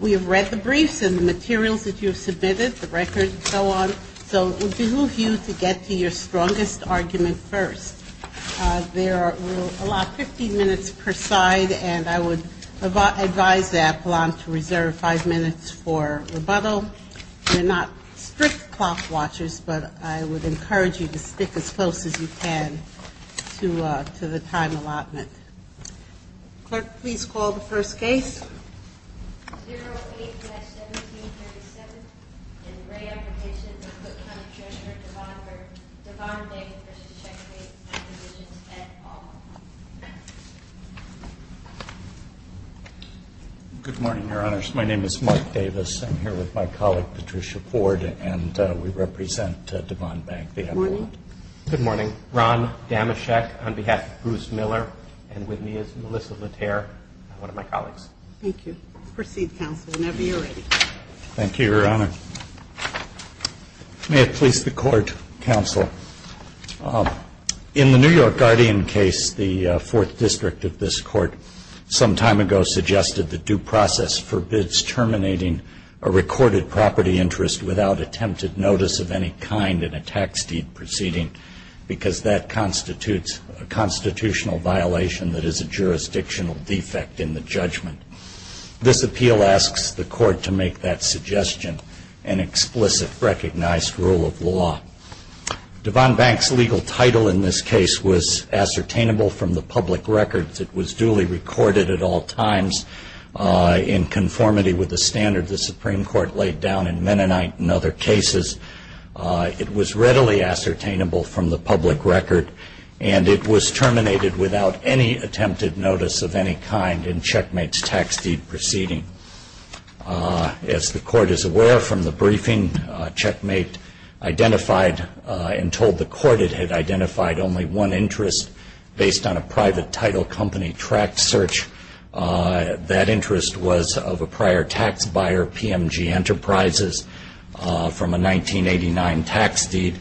We have read the briefs and the materials that you have submitted, the records and so on. So it would behoove you to get to your strongest argument first. There are a lot, 15 minutes per side, and I would advise Appalachian to reserve five minutes for rebuttal. They're not strict clock watchers, but I would encourage you to stick as close as you can to the time allotment. Clerk, please call the first case. Good morning, Your Honors. My name is Mark Davis. I'm here with my colleague, Patricia Ford, and we represent Devon Bank. Good morning. Ron Damoshek on behalf of Bruce Miller, and with me is Melissa Latare, one of my colleagues. Thank you. Proceed, counsel, whenever you're ready. Thank you, Your Honor. May it please the Court, counsel. In the New York Guardian case, the Fourth District of this Court some time ago suggested that due process forbids terminating a recorded property interest without attempted notice of any kind in a tax deed proceeding, because that constitutes a constitutional violation that is a jurisdictional defect in the judgment. This appeal asks the Court to make that suggestion an explicit, recognized rule of law. Devon Bank's legal title in this case was ascertainable from the public records. It was duly recorded at all times in conformity with the standard the Supreme Court laid down in Mennonite and other cases. It was readily ascertainable from the public record, and it was terminated without any attempted notice of any kind in Checkmate's tax deed proceeding. As the Court is aware from the briefing, Checkmate identified and told the Court it had identified only one interest based on a prior tax buyer, PMG Enterprises, from a 1989 tax deed.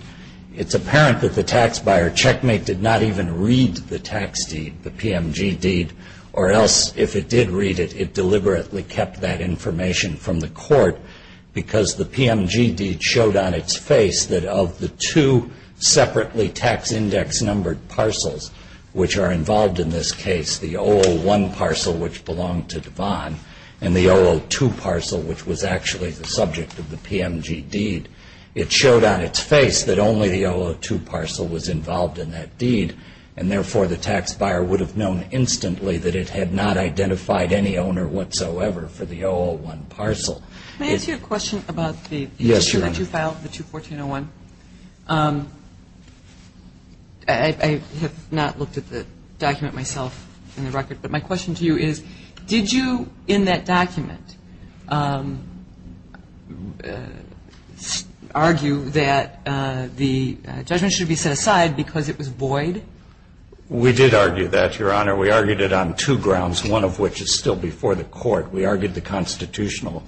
It's apparent that the tax buyer, Checkmate, did not even read the tax deed, the PMG deed, or else if it did read it, it deliberately kept that information from the Court, because the PMG deed showed on its face that of the two separately tax index-numbered parcels which are involved in this case, the 001 parcel which belonged to Devon, and the 002 parcel which was actually the subject of the PMG deed, it showed on its face that only the 002 parcel was involved in that deed, and therefore, the tax buyer would have known instantly that it had not identified any owner whatsoever for the 001 parcel. Can I ask you a question about the issue that you filed, the 214-01? I have not looked at the document myself in the record, but my guess is that it was a violation of constitutional due process. Did you, in that document, argue that the judgment should be set aside because it was void? We did argue that, Your Honor. We argued it on two grounds, one of which is still before the Court. We argued the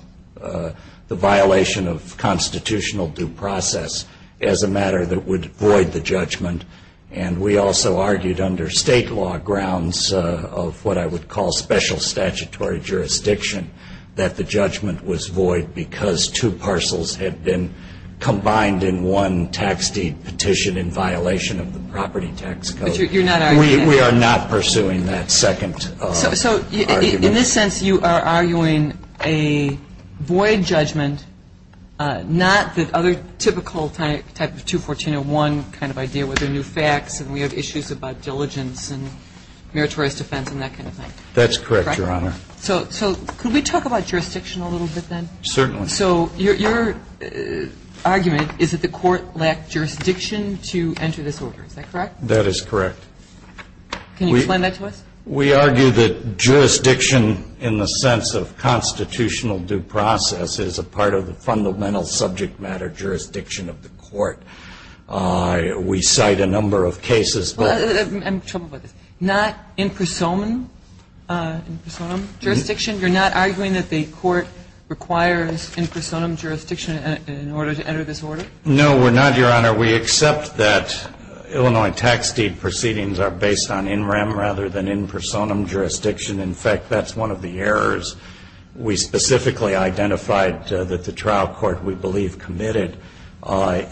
violation of constitutional due process as a matter that would void the judgment, and we also argued under State law grounds of what I would call special statutory jurisdiction, that the judgment was void because two parcels had been combined in one tax deed petition in violation of the property tax code. But you're not arguing that? We are not pursuing that second argument. So in this sense, you are arguing a void judgment, not the other typical type of 214-01 kind of idea with the new facts, and we have issues about diligence and meritorious defense and that kind of thing. That's correct, Your Honor. So could we talk about jurisdiction a little bit then? Certainly. So your argument is that the Court lacked jurisdiction to enter this order. Is that correct? That is correct. Can you explain that to us? We argue that jurisdiction in the sense of constitutional due process is a part of the fundamental subject matter jurisdiction of the Court. We cite a number of cases. I'm in trouble about this. Not in prosonum jurisdiction? You're not arguing that the Court requires in order to enter this order that there should be in prosonum jurisdiction in order to enter this order? No, we're not, Your Honor. We accept that Illinois tax deed proceedings are based on in rem rather than in prosonum jurisdiction. In fact, that's one of the errors. We specifically identified that the trial court, we believe, committed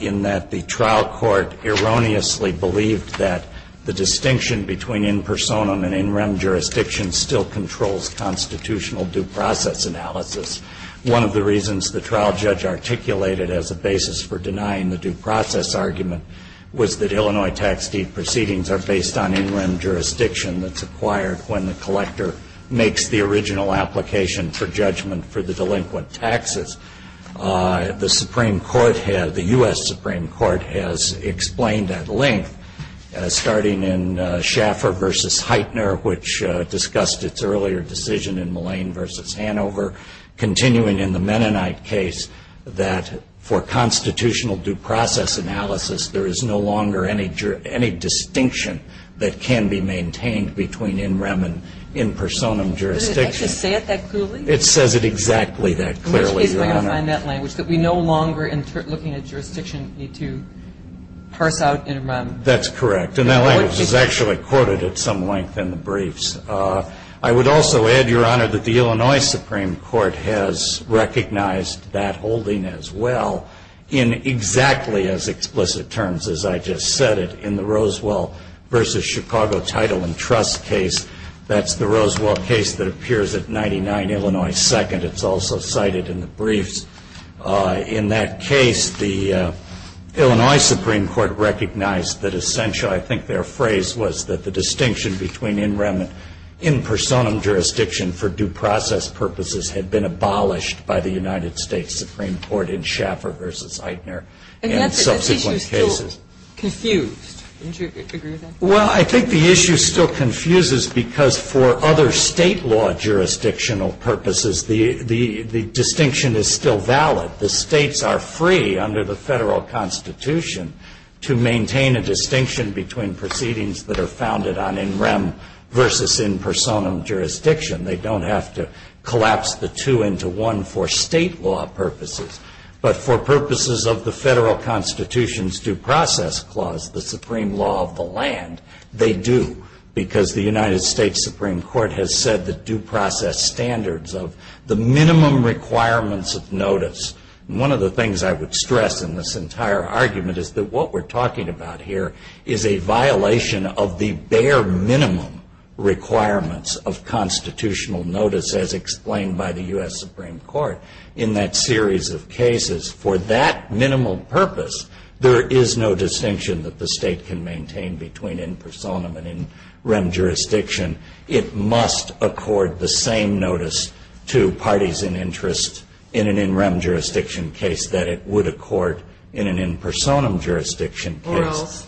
in that the trial court erroneously believed that the distinction between in prosonum and in rem jurisdiction still controls constitutional due process analysis. One of the reasons the trial judge articulated as a basis for denying the due process argument was that Illinois tax deed proceedings are based on in rem jurisdiction that's acquired when the collector makes the original application for judgment for the delinquent taxes. The Supreme Court, the U.S. Supreme Court, has explained at length, starting in Schaffer v. Heitner, which discussed its earlier decision in Millane v. Hanover, continuing in the Mennonite case, that for constitutional due process analysis, there is no longer any distinction that can be maintained between in rem and in prosonum jurisdiction. Does it actually say it that clearly? It says it exactly that clearly, Your Honor. In which case am I going to find that language, that we no longer, in looking at jurisdiction, need to parse out in rem? The Illinois Supreme Court has recognized that holding as well, in exactly as explicit terms as I just said it, in the Rosewell v. Chicago title and trust case. That's the Rosewell case that appears at 99 Illinois 2nd. It's also cited in the briefs. In that case, the Illinois Supreme Court recognized that essentially, I think their phrase was that the distinction between in rem and in prosonum jurisdiction had been abolished by the United States Supreme Court in Schaffer v. Heitner and subsequent cases. And that's the issue still confused. Don't you agree with that? Well, I think the issue still confuses because for other state law jurisdictional purposes, the distinction is still valid. The states are free, under the federal constitution, to maintain a distinction between proceedings that are founded on in rem versus in prosonum jurisdiction. They don't have to collapse the two into one for state law purposes. But for purposes of the federal constitution's due process clause, the supreme law of the land, they do. Because the United States Supreme Court has said that due process standards of the minimum requirements of notice. One of the things I would stress in this entire argument is that what we're talking about here is a violation of the bare minimum requirements of constitution. Constitutional notice as explained by the U.S. Supreme Court in that series of cases. For that minimal purpose, there is no distinction that the state can maintain between in prosonum and in rem jurisdiction. It must accord the same notice to parties in interest in an in rem jurisdiction case that it would accord in an in prosonum jurisdiction case. Or else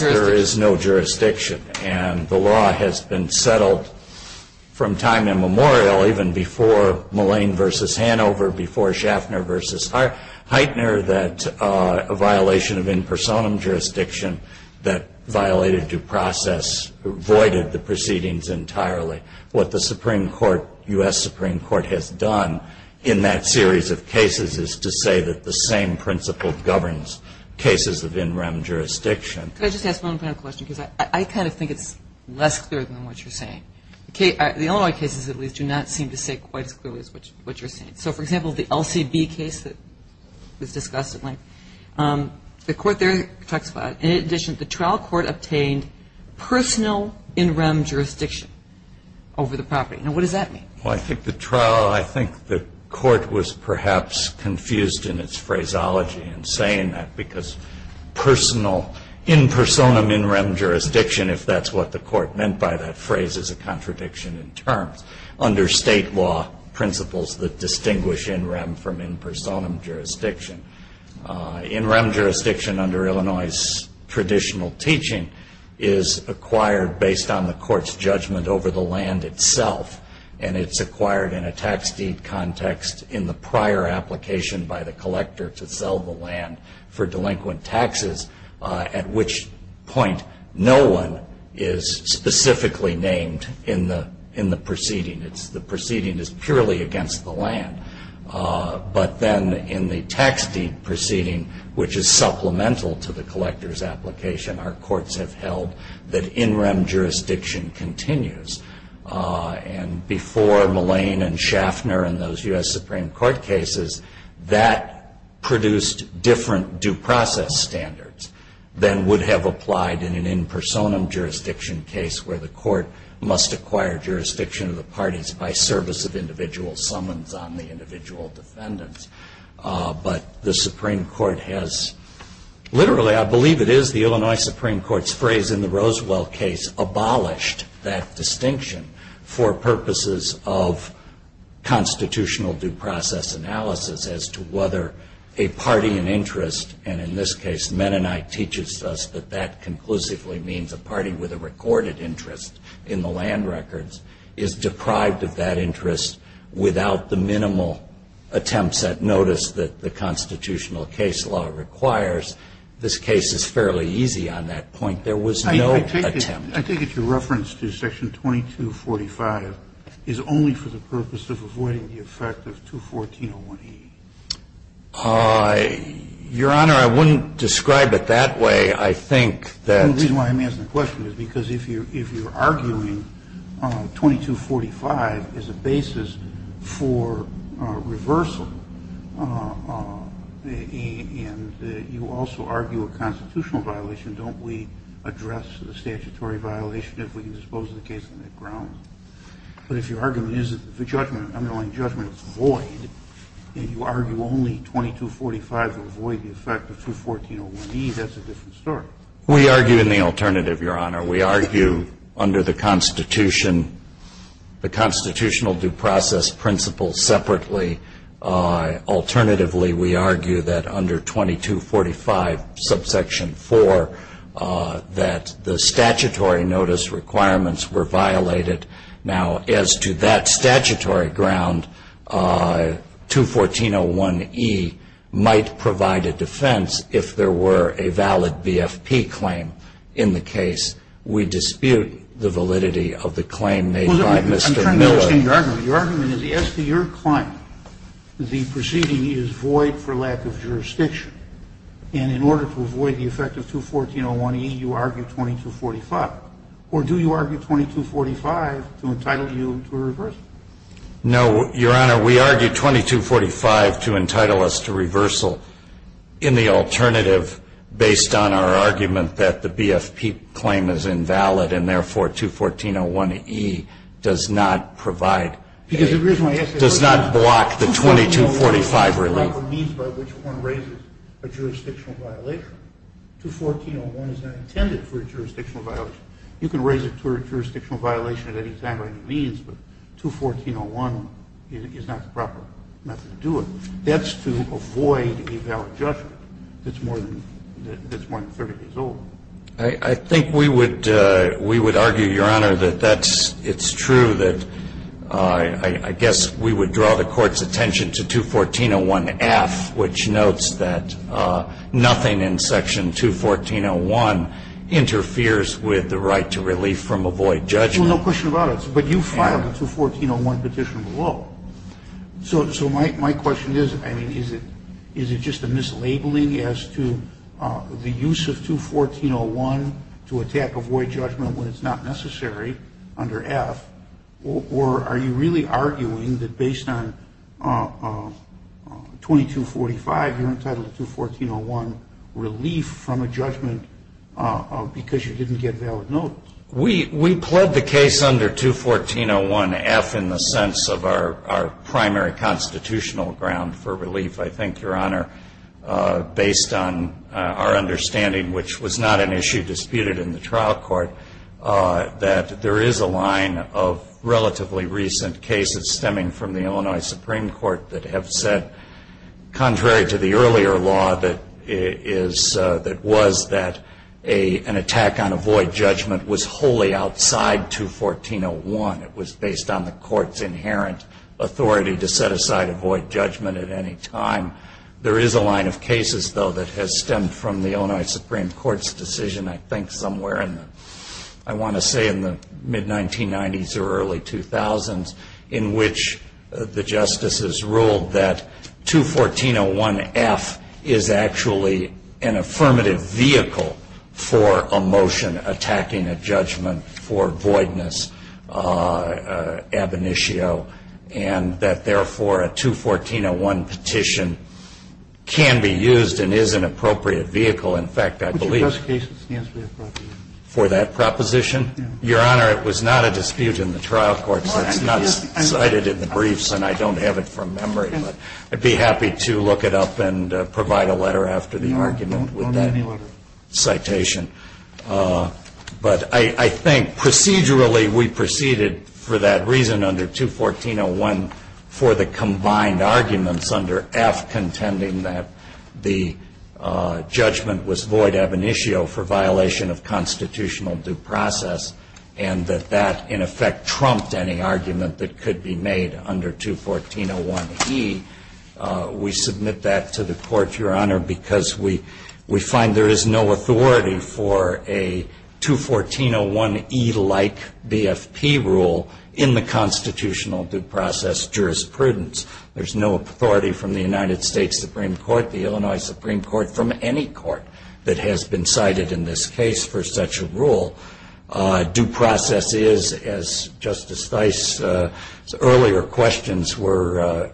there is no jurisdiction. And the law has been settled from time immemorial, even before Mullane versus Hanover, before Schaffner versus Heitner, that a violation of in prosonum jurisdiction that violated due process voided the proceedings entirely. What the Supreme Court, U.S. Supreme Court, has done in that series of cases is to say that the same principle governs cases of in rem jurisdiction. Could I just ask one final question, because I kind of think it's less clear than what you're saying. The Illinois cases, at least, do not seem to say quite as clearly as what you're saying. So, for example, the LCB case that was discussed at length, the court there talks about, in addition, the trial court obtained personal in rem jurisdiction over the property. Now, what does that mean? Well, I think the trial, I think the court was perhaps confused in its phraseology in saying that. Because personal, in prosonum in rem jurisdiction, if that's what the court meant by that phrase, is a contradiction in terms. Under state law, principles that distinguish in rem from in prosonum jurisdiction. In rem jurisdiction, under Illinois' traditional teaching, is acquired based on the court's judgment over the land itself. And it's acquired in a tax deed context in the prior application by the collector to sell the land for delinquent taxes. At which point, no one is specifically named in the proceeding. The proceeding is purely against the land. But then in the tax deed proceeding, which is supplemental to the collector's application, our courts have held that in rem jurisdiction continues. And before Mullane and Schaffner and those U.S. Supreme Court cases, that produced different due process standards than would have applied in an in prosonum jurisdiction case where the court must acquire jurisdiction of the parties by service of individual summons on the individual defendants. But the Supreme Court has literally, I believe it is the Illinois Supreme Court's phrase in the Rosewell case, abolished that distinction. For purposes of constitutional due process analysis as to whether a party in interest, and in this case Mennonite teaches us that that conclusively means a party with a recorded interest in the land records, is deprived of that interest without the minimal attempts at notice that the constitutional case law requires. This case is fairly easy on that point. The question is, if you're arguing 2245 as a basis for reversal, and you also argue a constitutional violation, don't we address the statutory violation if we can dispose of the case on the ground? But if your argument is that the judgment, the underlying judgment is void, and you argue only 2245 will avoid the effect of 214-01E, that's a different story. We argue in the alternative, Your Honor. We argue under the constitutional due process principles separately. Alternatively, we argue that under 2245 subsection 4, that the statutory notice requirements were violated, and that the constitutional due process principles were violated. Now, as to that statutory ground, 214-01E might provide a defense if there were a valid BFP claim in the case. We dispute the validity of the claim made by Mr. Miller. I'm trying to understand your argument. Your argument is, as to your claim, the proceeding is void for lack of jurisdiction, and in order to avoid the effect of 214-01E, you argue 2245. Or do you argue 2245 to entitle you to a reversal? No, Your Honor, we argue 2245 to entitle us to reversal in the alternative, based on our argument that the BFP claim is invalid, and therefore 214-01E does not provide, does not block the 2245 relief. 214-01E is not intended for a jurisdictional violation. You can raise it to a jurisdictional violation at any time by any means, but 214-01E is not the proper method to do it. That's to avoid a valid judgment that's more than 30 days old. I think we would argue, Your Honor, that it's true that I guess we would draw the Court's attention to 214-01F, which notes that nothing in section 214-01 interferes with the right to a BFP claim. It's just a mislabeling as to the use of 214-01 to attack a void judgment when it's not necessary under F, or are you really arguing that based on 2245, you're entitled to 214-01 relief from a judgment because you didn't get valid notice? We pled the case under 214-01F in the sense of our primary constitutional ground for relief. I think, Your Honor, based on our understanding, which was not an issue disputed in the trial court, that there is a line of relatively recent cases stemming from the Illinois Supreme Court that have said, contrary to the earlier law, that it was that an attack on a void judgment was not necessary. It was wholly outside 214-01. It was based on the Court's inherent authority to set aside a void judgment at any time. There is a line of cases, though, that has stemmed from the Illinois Supreme Court's decision, I think somewhere in the, I want to say in the mid-1990s or early 2000s, in which the justices ruled that 214-01F is actually an affirmative vehicle for a motion attacking a judgment. It is an affirmative vehicle for a motion attacking a judgment for voidness, ab initio, and that, therefore, a 214-01 petition can be used and is an appropriate vehicle. In fact, I believe for that proposition, Your Honor, it was not a dispute in the trial court. It's not cited in the briefs, and I don't have it from memory, but I'd be happy to look it up and provide a letter after the argument with that citation. But I think procedurally we proceeded for that reason under 214-01 for the combined arguments under F, contending that the judgment was void ab initio for violation of constitutional due process, and that that, in effect, trumped any argument that could be made under 214-01E. We submit that to the court, Your Honor, because we find there is no authority for a 214-01E-like BFP rule in the constitutional due process jurisprudence. There's no authority from the United States Supreme Court, the Illinois Supreme Court, from any court that has been cited in this case for such a rule. Due process is, as Justice Theis's earlier questions were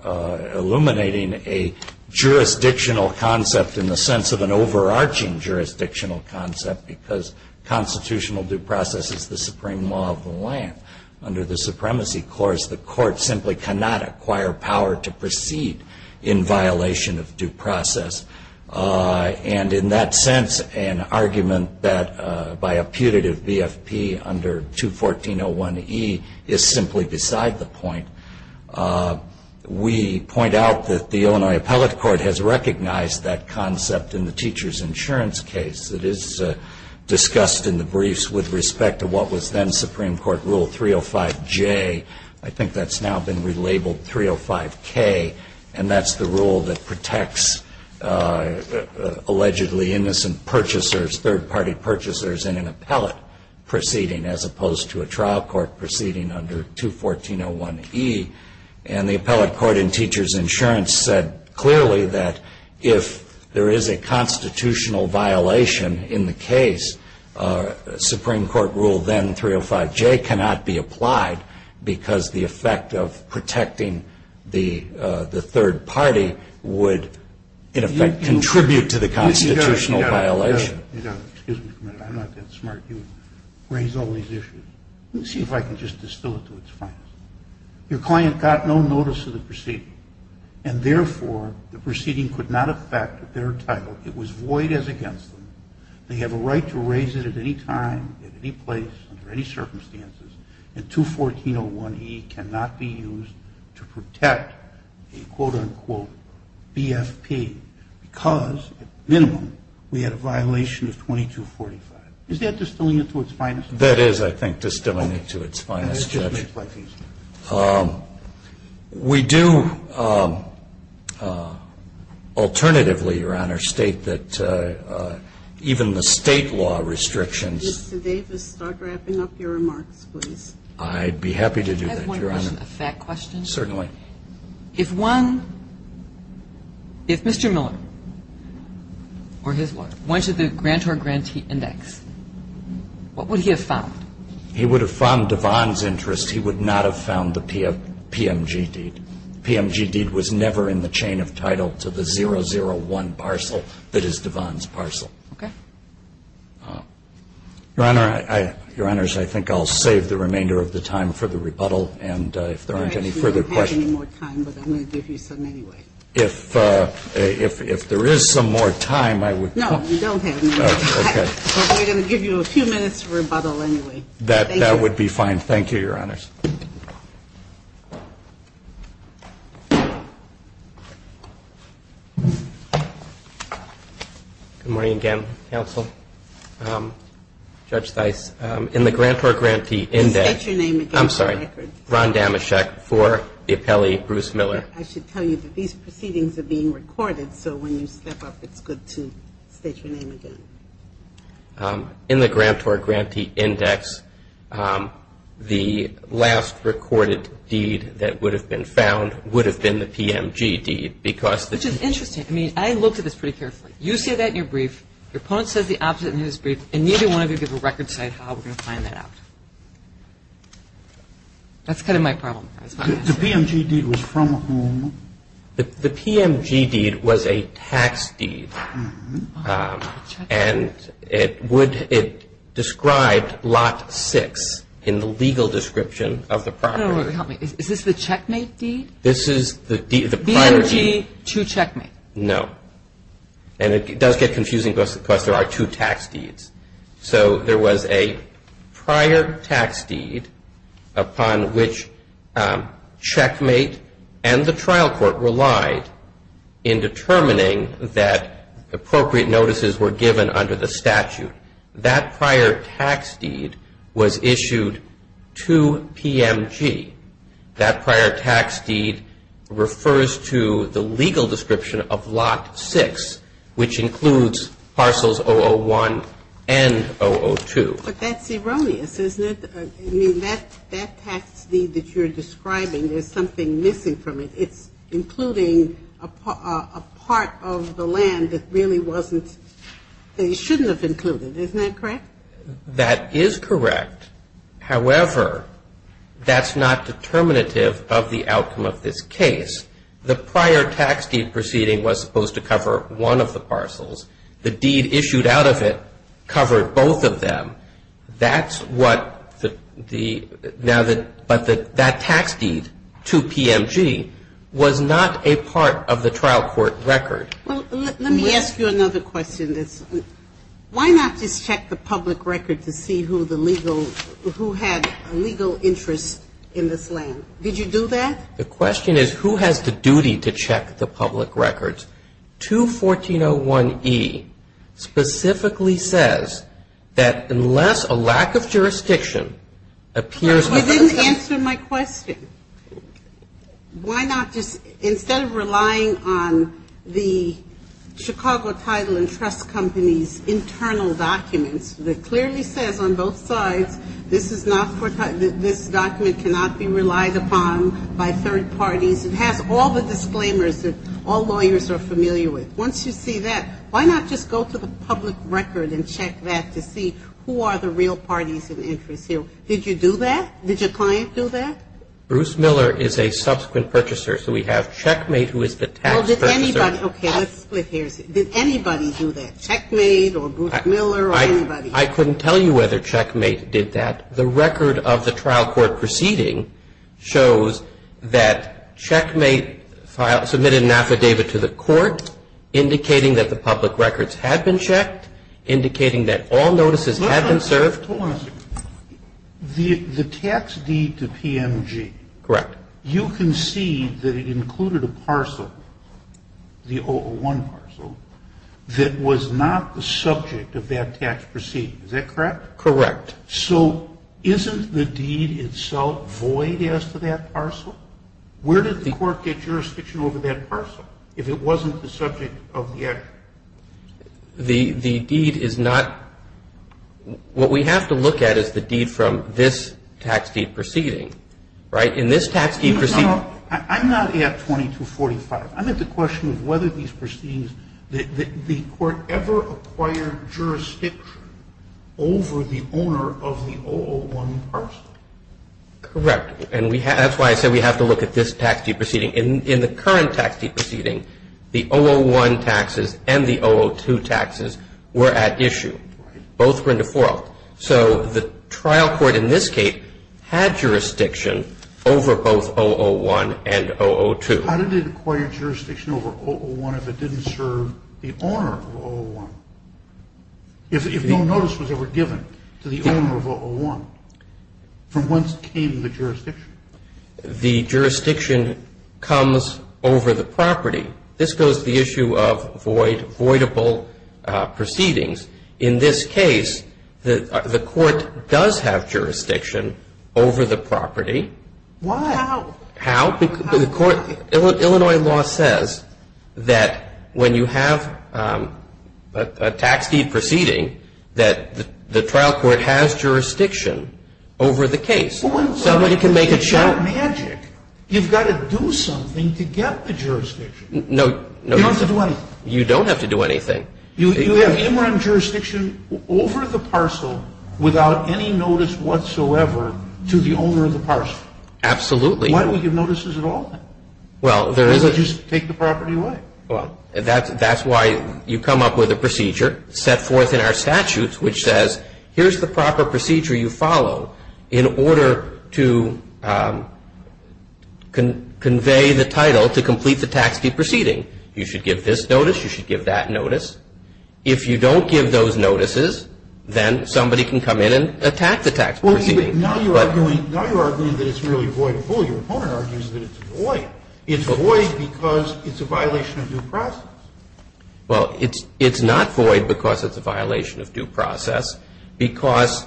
elucidating, is a constitutional due process. It's not elucidating a jurisdictional concept in the sense of an overarching jurisdictional concept, because constitutional due process is the supreme law of the land. Under the supremacy course, the court simply cannot acquire power to proceed in violation of due process. And in that sense, an argument that by a putative BFP under 214-01E is simply beside the point. We point out that the Illinois Appellate Court has recognized that concept in the teacher's insurance case. It is discussed in the briefs with respect to what was then Supreme Court Rule 305J. I think that's now been relabeled 305K, and that's the rule that protects allegedly innocent purchasers, third-party purchasers in an appellate proceeding, as opposed to a trial court proceeding under 214-01E. And the appellate court in teacher's insurance said clearly that if there is a constitutional violation in the case, Supreme Court Rule then 305J cannot be applied, because the effect of protecting the third party would, in effect, contribute to the constitutional violation. You know, excuse me for a minute, I'm not that smart. You raise all these issues. Let me see if I can just distill it to its finest. Your client got no notice of the proceeding, and therefore the proceeding could not affect their title. It was void as against them. They have a right to raise it at any time, at any place, under any circumstances, and 214-01E cannot be used to protect a, quote-unquote, BFP, because, at minimum, we had a violation of 2245. Is that distilling it to its finest? That is, I think, distilling it to its finest, Judge. We do, alternatively, Your Honor, state that even the State law restrictions. Mr. Davis, start wrapping up your remarks, please. I'd be happy to do that, Your Honor. Can I ask one question, a fact question? Certainly. If one, if Mr. Miller or his lawyer went to the grantor-grantee index, what would he have found? He would have found DeVon's interest. He would not have found the PMG deed. The PMG deed was never in the chain of title to the 001 parcel that is DeVon's parcel. Okay. Your Honor, I think I'll save the remainder of the time for the rebuttal. And if there aren't any further questions. We don't have any more time, but I'm going to give you some anyway. If there is some more time, I would. No, we don't have any more time. Okay. But we're going to give you a few minutes for rebuttal anyway. That would be fine. Thank you, Your Honors. Good morning again, counsel. Judge Dice, in the grantor-grantee index. State your name again for the record. Ron Damoshek for the appellee, Bruce Miller. I should tell you that these proceedings are being recorded. So when you step up, it's good to state your name again. In the grantor-grantee index, the last recorded deed that would have been found would have been the PMG deed. Which is interesting. I mean, I looked at this pretty carefully. You say that in your brief. Your opponent says the opposite in his brief. And neither one of you give a record saying how we're going to find that out. That's kind of my problem. The PMG deed was from whom? The PMG deed was a tax deed. And it described Lot 6 in the legal description of the property. Is this the checkmate deed? This is the prior deed. PMG to checkmate. No. And it does get confusing because there are two tax deeds. So there was a prior tax deed upon which checkmate and the trial court relied in determining that appropriate notices were given under the statute. That prior tax deed was issued to PMG. That prior tax deed refers to the legal description of Lot 6, which includes parcels 001 and 002. But that's erroneous, isn't it? I mean, that tax deed that you're describing, there's something missing from it. It's including a part of the land that really wasn't they shouldn't have included. Isn't that correct? That is correct. However, that's not determinative of the outcome of this case. The prior tax deed proceeding was supposed to cover one of the parcels. The deed issued out of it covered both of them. That's what the ñ but that tax deed to PMG was not a part of the trial court record. Well, let me ask you another question. Why not just check the public record to see who the legal ñ who had legal interest in this land? Did you do that? The question is who has the duty to check the public records? 214.01e specifically says that unless a lack of jurisdiction appears ñ Well, you didn't answer my question. Why not just ñ instead of relying on the Chicago Title and Trust Company's internal documents, that clearly says on both sides this is not for ñ this document cannot be relied upon by third parties. It has all the disclaimers that all lawyers are familiar with. Once you see that, why not just go to the public record and check that to see who are the real parties of interest here? Did you do that? Did your client do that? Bruce Miller is a subsequent purchaser, so we have Checkmate, who is the tax purchaser. Well, did anybody ñ okay, let's split hairs. Did anybody do that, Checkmate or Bruce Miller or anybody? I couldn't tell you whether Checkmate did that. The record of the trial court proceeding shows that Checkmate submitted an affidavit to the court indicating that the public records had been checked, indicating that all notices had been served. The tax deed to PMG. Correct. You concede that it included a parcel, the 001 parcel, that was not the subject of that tax proceeding. Is that correct? Correct. So isn't the deed itself void as to that parcel? Where did the court get jurisdiction over that parcel if it wasn't the subject of the action? The deed is not ñ what we have to look at is the deed from this tax deed proceeding. Right? In this tax deed proceeding ñ I'm not at 2245. I meant the question of whether these proceedings ñ the court ever acquired jurisdiction over the owner of the 001 parcel. Correct. And that's why I said we have to look at this tax deed proceeding. In the current tax deed proceeding, the 001 taxes and the 002 taxes were at issue. Right. Both were in default. So the trial court in this case had jurisdiction over both 001 and 002. How did it acquire jurisdiction over 001 if it didn't serve the owner of 001, if no notice was ever given to the owner of 001? From whence came the jurisdiction? The jurisdiction comes over the property. This goes to the issue of voidable proceedings. In this case, the court does have jurisdiction over the property. Why? How? How? The court ñ Illinois law says that when you have a tax deed proceeding, that the trial court has jurisdiction over the case. Somebody can make a check. It's not magic. You've got to do something to get the jurisdiction. No. You don't have to do anything. You don't have to do anything. You have interim jurisdiction over the parcel without any notice whatsoever to the owner of the parcel. Absolutely. Why don't we give notices at all, then? Well, there is a ñ Because they just take the property away. Well, that's why you come up with a procedure set forth in our statutes which says, here's the proper procedure you follow in order to convey the title to complete the tax deed proceeding. You should give this notice. You should give that notice. If you don't give those notices, then somebody can come in and attack the tax proceeding. Well, wait a minute. Now you're arguing ñ now you're arguing that it's really voidable. Your opponent argues that it's void. It's void because it's a violation of due process. Well, it's not void because it's a violation of due process. Because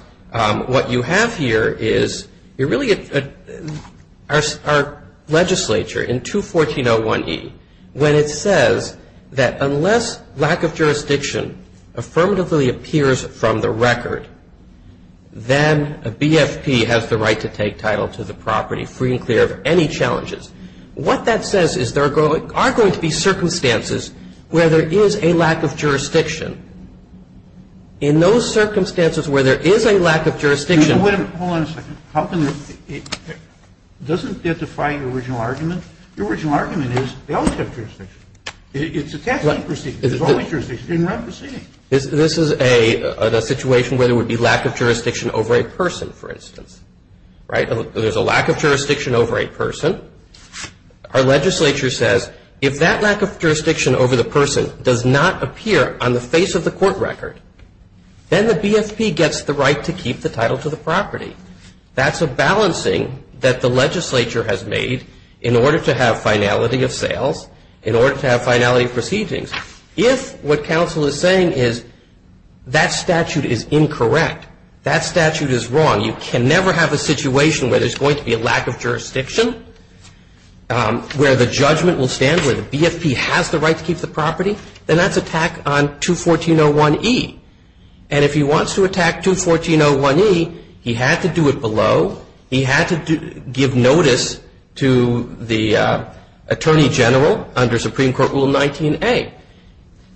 what you have here is you're really ñ our legislature, in 214.01e, when it says that unless lack of jurisdiction affirmatively appears from the record, then a BFP has the right to take title to the property free and clear of any challenges. What that says is there are going to be circumstances where there is a lack of jurisdiction. In those circumstances where there is a lack of jurisdiction ñ Wait a minute. Hold on a second. How can ñ doesn't that defy your original argument? Your original argument is they all have jurisdiction. It's a tax deed proceeding. There's always jurisdiction. It didn't run proceeding. This is a situation where there would be lack of jurisdiction over a person, for instance. Right? There's a lack of jurisdiction over a person. Our legislature says if that lack of jurisdiction over the person does not appear on the face of the court record, then the BFP gets the right to keep the title to the property. That's a balancing that the legislature has made in order to have finality of sales, in order to have finality of proceedings. If what counsel is saying is that statute is incorrect, that statute is wrong, you can never have a situation where there's going to be a lack of jurisdiction, where the judgment will stand, where the BFP has the right to keep the property, then that's attack on 214.01e. And if he wants to attack 214.01e, he had to do it below. He had to give notice to the Attorney General under Supreme Court Rule 19a.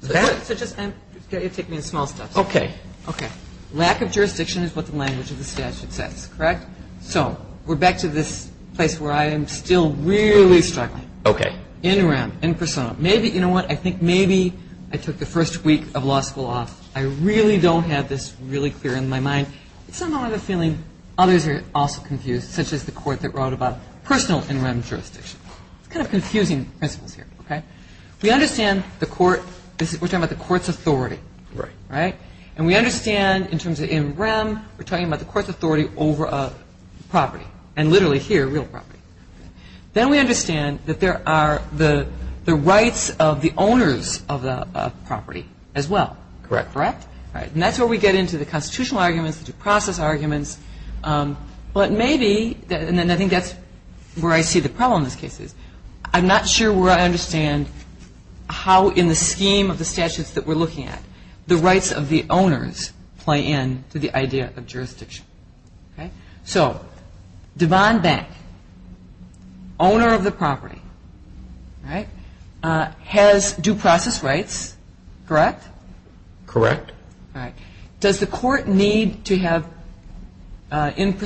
Is that ñ So just ñ take me in small steps. Okay. Okay. Lack of jurisdiction is what the language of the statute says, correct? So we're back to this place where I am still really struggling. Okay. In rem, in persona. Maybe ñ you know what? I think maybe I took the first week of law school off. I really don't have this really clear in my mind. It's somewhat of a feeling others are also confused, such as the court that wrote about personal in rem jurisdiction. It's kind of confusing principles here, okay? We understand the court ñ we're talking about the court's authority, right? Right. And we understand in terms of in rem, we're talking about the court's authority over a property, and literally here, real property. Then we understand that there are the rights of the owners of the property as well. Correct. Correct? Right. And that's where we get into the constitutional arguments, the due process arguments. But maybe ñ and I think that's where I see the problem in this case is I'm not sure where I understand how in the scheme of the statutes that we're looking at, the rights of the owners play into the idea of jurisdiction, okay? So Devon Bank, owner of the property, right, has due process rights, correct? Correct. All right. I don't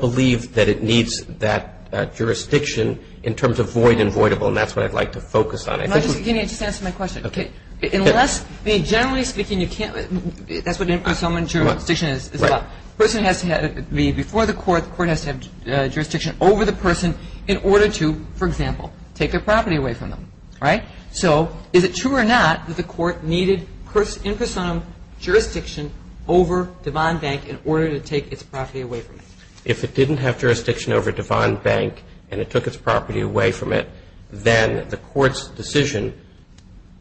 believe that it needs that jurisdiction in terms of void and voidable, and that's what I'd like to focus on. Can you just answer my question? Okay. Unless ñ I mean, generally speaking, you can't ñ that's what impersonal jurisdiction is about. Right. A person has to have ñ before the court, the court has to have jurisdiction over the person in order to, for example, take their property away from them, right? So is it true or not that the court needed impersonal jurisdiction over Devon Bank in order to take its property away from them? If it didn't have jurisdiction over Devon Bank and it took its property away from it, then the court's decision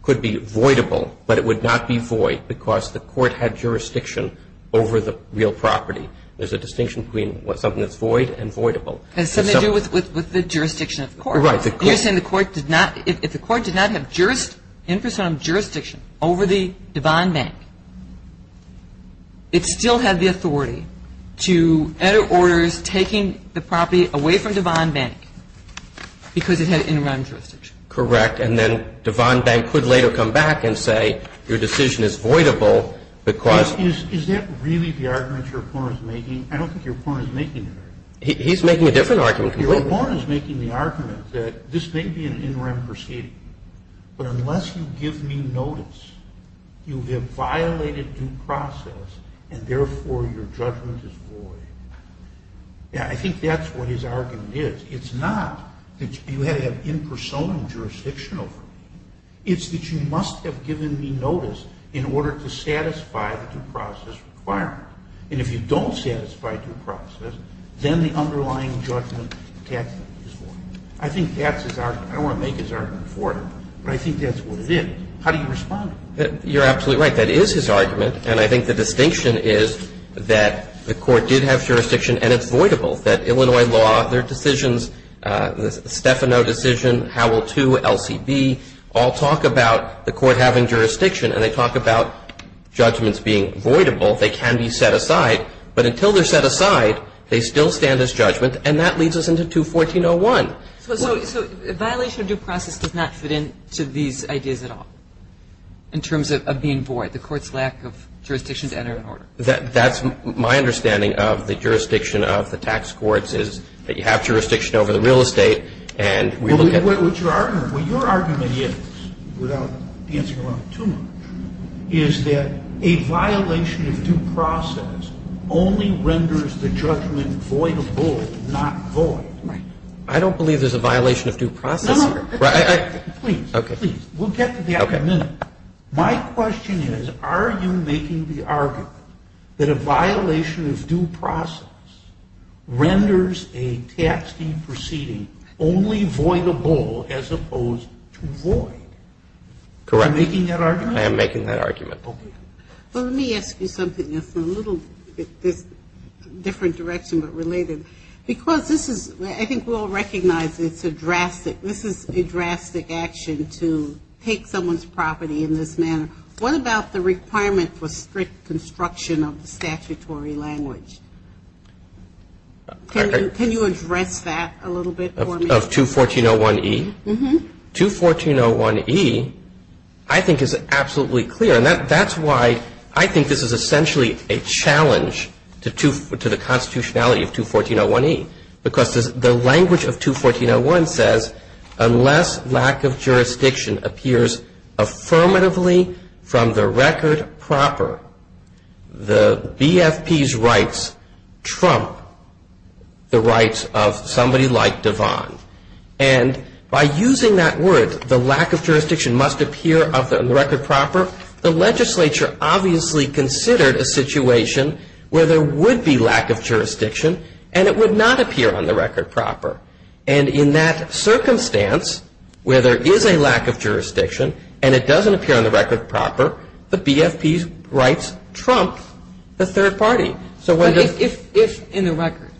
could be voidable, but it would not be void because the court had jurisdiction over the real property. There's a distinction between something that's void and voidable. It has something to do with the jurisdiction of the court. Right. You're saying the court did not ñ if the court did not have jurisdiction, impersonal jurisdiction over the Devon Bank, it still had the authority to enter orders taking the property away from Devon Bank because it had interim jurisdiction. Correct. And then Devon Bank could later come back and say your decision is voidable because Is that really the argument your opponent is making? I don't think your opponent is making that argument. He's making a different argument. Your opponent is making the argument that this may be an interim proceeding, but unless you give me notice, you have violated due process and therefore your judgment is void. Yeah, I think that's what his argument is. It's not that you had to have impersonal jurisdiction over it. It's that you must have given me notice in order to satisfy the due process requirement. And if you don't satisfy due process, then the underlying judgment is void. I think that's his argument. I don't want to make his argument for him, but I think that's what it is. How do you respond? You're absolutely right. That is his argument. And I think the distinction is that the court did have jurisdiction and it's voidable, that Illinois law, their decisions, the Stefano decision, Howell 2, LCB, all talk about the court having jurisdiction and they talk about judgments being voidable. They can be set aside. But until they're set aside, they still stand as judgment. And that leads us into 214.01. So violation of due process does not fit into these ideas at all in terms of being void, the court's lack of jurisdiction to enter an order? That's my understanding of the jurisdiction of the tax courts is that you have jurisdiction over the real estate and we look at it. What your argument is, without dancing around too much, is that a violation of due process only renders the judgment voidable, not void. Right. I don't believe there's a violation of due process. No, no. Please. Okay. Please. We'll get to that in a minute. My question is, are you making the argument that a violation of due process renders a tax deed proceeding only voidable as opposed to void? Correct. Are you making that argument? I am making that argument. Okay. Well, let me ask you something that's a little different direction but related. Because this is, I think we all recognize it's a drastic, this is a drastic action to take someone's property in this manner. What about the requirement for strict construction of the statutory language? Can you address that a little bit for me? Of 214.01e? Uh-huh. 214.01e, I think, is absolutely clear. And that's why I think this is essentially a challenge to the constitutionality of 214.01e. Because the language of 214.01 says, unless lack of jurisdiction appears affirmatively from the record proper, the BFP's rights trump the rights of somebody like Devon. And by using that word, the lack of jurisdiction must appear on the record proper, the legislature obviously considered a situation where there would be lack of jurisdiction and it would not appear on the record proper. And in that circumstance where there is a lack of jurisdiction and it doesn't appear on the record proper, the BFP's rights trump the third party. So when the- But if in the record,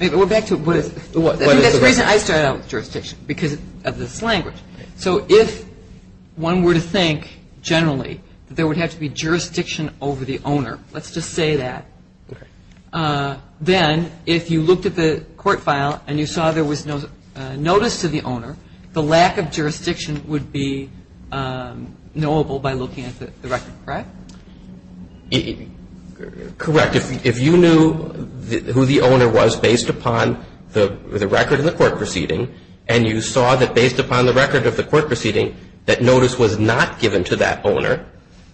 we're back to what is- I think that's the reason I started out with jurisdiction, because of this language. So if one were to think generally that there would have to be jurisdiction over the owner, let's just say that. Then if you looked at the court file and you saw there was no notice to the owner, the lack of jurisdiction would be knowable by looking at the record, correct? Correct. If you knew who the owner was based upon the record of the court proceeding and you saw that based upon the record of the court proceeding that notice was not given to that owner,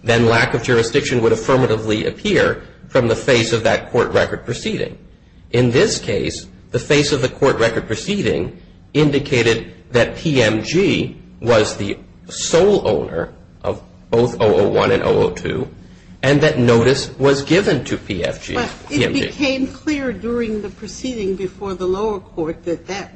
then lack of jurisdiction would affirmatively appear from the face of that court record proceeding. In this case, the face of the court record proceeding indicated that PMG was the sole owner of both 001 and 002 and that notice was given to PFG, PMG. But it became clear during the proceeding before the lower court that that,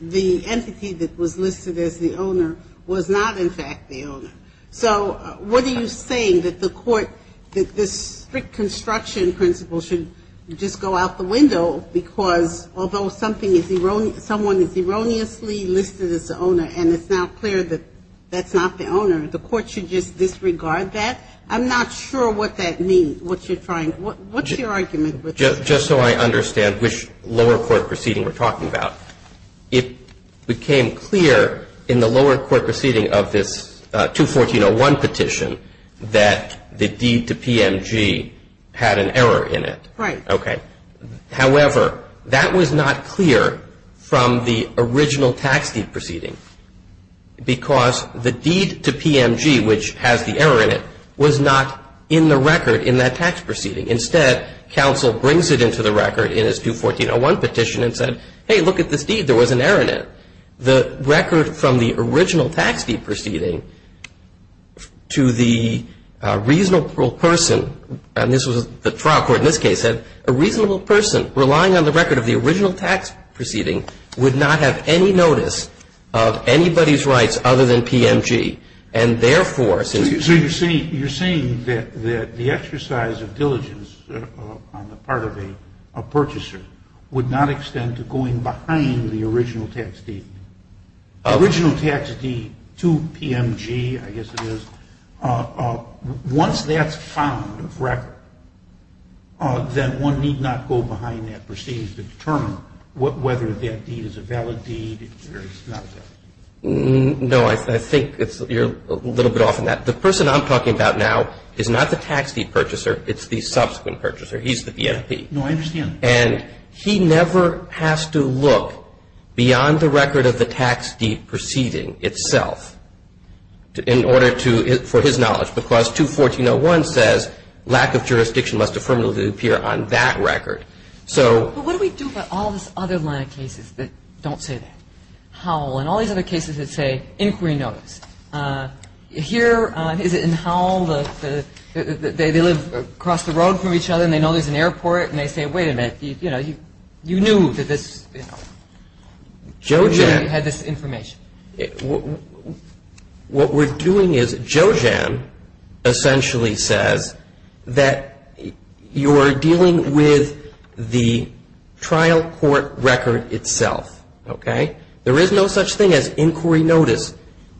the entity that was listed as the owner was not in fact the owner. So what are you saying, that the court, that this strict construction principle should just go out the window because although something is, someone is erroneously listed as the owner and it's now clear that that's not the owner, the court should just disregard that? I'm not sure what that means, what you're trying, what's your argument? Just so I understand which lower court proceeding we're talking about, it became clear in the lower court proceeding of this 21401 petition that the deed to PMG had an error in it. Right. Okay. However, that was not clear from the original tax deed proceeding because the deed to PMG, which has the error in it, was not in the record in that tax proceeding. Instead, counsel brings it into the record in his 21401 petition and said, hey, look at this deed, there was an error in it. The record from the original tax deed proceeding to the reasonable person, and this was the trial court in this case, said a reasonable person relying on the record of the original tax proceeding would not have any notice of anybody's rights other than PMG. And therefore, since you say. You're saying that the exercise of diligence on the part of a purchaser would not extend to going behind the original tax deed. The original tax deed to PMG, I guess it is, once that's found of record, then one need not go behind that proceeding to determine whether that deed is a valid deed or it's not a valid deed. No, I think you're a little bit off on that. The person I'm talking about now is not the tax deed purchaser, it's the subsequent He's the BMP. No, I understand. And he never has to look beyond the record of the tax deed proceeding itself in order to, for his knowledge, because 21401 says lack of jurisdiction must affirmably appear on that record. So. But what do we do about all this other line of cases that don't say that? Howell and all these other cases that say inquiry notice. Here, is it in Howell, they live across the road from each other and they know there's an airport and they say, wait a minute, you know, you knew that this, you know, you had this information. What we're doing is Jojan essentially says that you're dealing with the trial court record itself, okay? There is no such thing as inquiry notice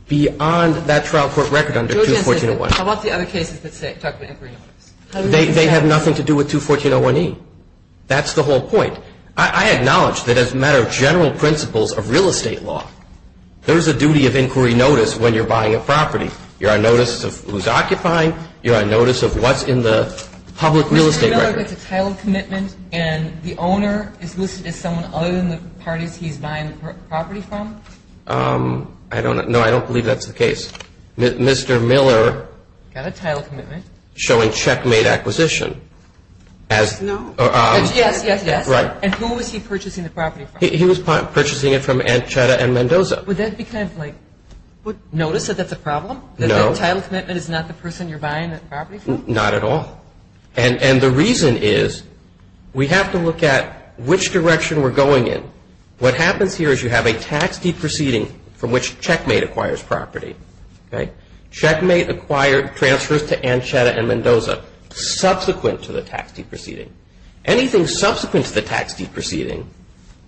beyond that trial court record under 2141. How about the other cases that talk about inquiry notice? They have nothing to do with 21401E. That's the whole point. I acknowledge that as a matter of general principles of real estate law, there's a duty of inquiry notice when you're buying a property. You're on notice of who's occupying. You're on notice of what's in the public real estate record. Mr. Miller gets a title commitment and the owner is listed as someone other than the parties he's buying the property from? I don't know. I don't believe that's the case. Mr. Miller. Got a title commitment. Showing checkmate acquisition. No. Yes, yes, yes. Right. And who was he purchasing the property from? He was purchasing it from Anchetta and Mendoza. Would that be kind of like notice that that's a problem? No. The title commitment is not the person you're buying the property from? Not at all. And the reason is we have to look at which direction we're going in. What happens here is you have a tax deed proceeding from which checkmate acquires property, okay? Checkmate acquires, transfers to Anchetta and Mendoza subsequent to the tax deed proceeding. Anything subsequent to the tax deed proceeding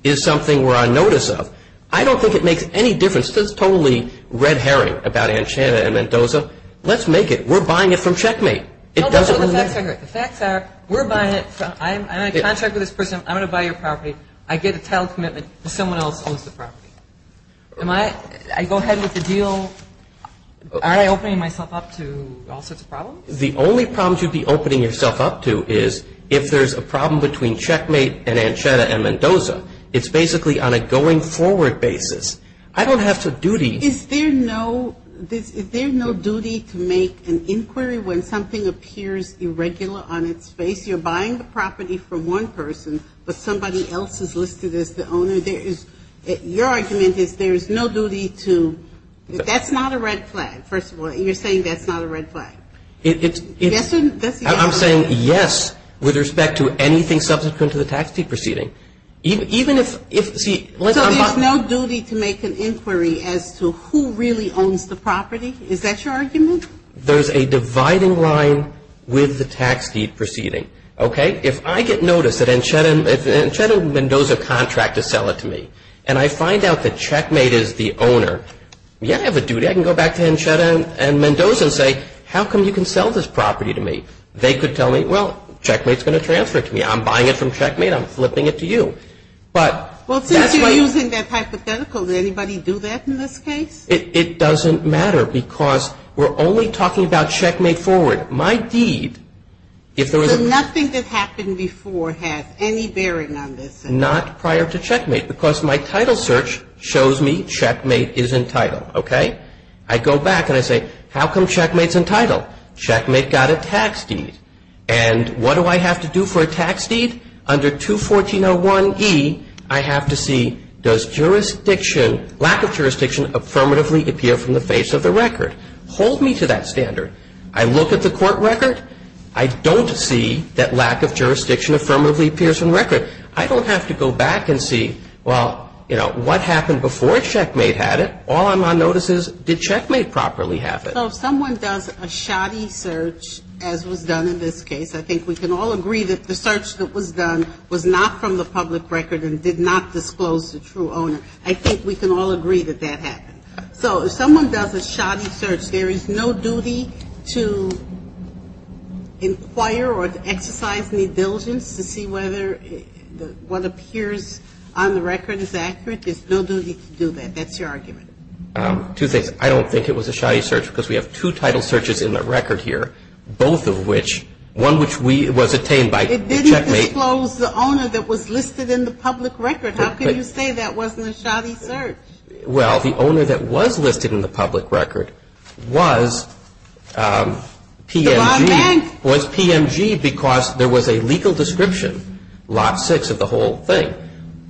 is something we're on notice of. I don't think it makes any difference. It's totally red herring about Anchetta and Mendoza. Let's make it. We're buying it from checkmate. It doesn't really matter. No, but the facts are correct. The facts are we're buying it from ñ I'm in a contract with this person. I'm going to buy your property. I get a title commitment and someone else owns the property. Am I ñ I go ahead with the deal. Are I opening myself up to all sorts of problems? The only problems you'd be opening yourself up to is if there's a problem between checkmate and Anchetta and Mendoza. It's basically on a going forward basis. I don't have to duty. Is there no ñ is there no duty to make an inquiry when something appears irregular on its face? You're buying the property from one person, but somebody else is listed as the owner. Your argument is there's no duty to ñ that's not a red flag, first of all. You're saying that's not a red flag. It's ñ That's the argument. I'm saying yes with respect to anything subsequent to the tax deed proceeding. Even if ñ see ñ So there's no duty to make an inquiry as to who really owns the property? Is that your argument? There's a dividing line with the tax deed proceeding. Okay? If I get notice that Anchetta and Mendoza contract to sell it to me and I find out that checkmate is the owner, yeah, I have a duty. I can go back to Anchetta and Mendoza and say, how come you can sell this property to me? They could tell me, well, checkmate's going to transfer it to me. I'm buying it from checkmate. I'm flipping it to you. But that's what ñ Well, since you're using that hypothetical, did anybody do that in this case? It doesn't matter because we're only talking about checkmate forward. My deed, if there was a ñ Nothing that happened before has any bearing on this? Not prior to checkmate because my title search shows me checkmate is entitled. Okay? I go back and I say, how come checkmate's entitled? Checkmate got a tax deed. And what do I have to do for a tax deed? Under 214.01e, I have to see does jurisdiction, lack of jurisdiction, affirmatively appear from the face of the record? Hold me to that standard. I look at the court record. I don't see that lack of jurisdiction affirmatively appears from the record. I don't have to go back and see, well, you know, what happened before checkmate had it. All I'm on notice is, did checkmate properly have it? So if someone does a shoddy search, as was done in this case, I think we can all agree that the search that was done was not from the public record and did not disclose the true owner. I think we can all agree that that happened. So if someone does a shoddy search, there is no duty to inquire or to exercise any diligence to see whether what appears on the record is accurate? There's no duty to do that. That's your argument. Two things. I don't think it was a shoddy search because we have two title searches in the record here, both of which, one which was obtained by the checkmate. It didn't disclose the owner that was listed in the public record. How can you say that wasn't a shoddy search? Well, the owner that was listed in the public record was PMG because there was a legal description, lot six of the whole thing.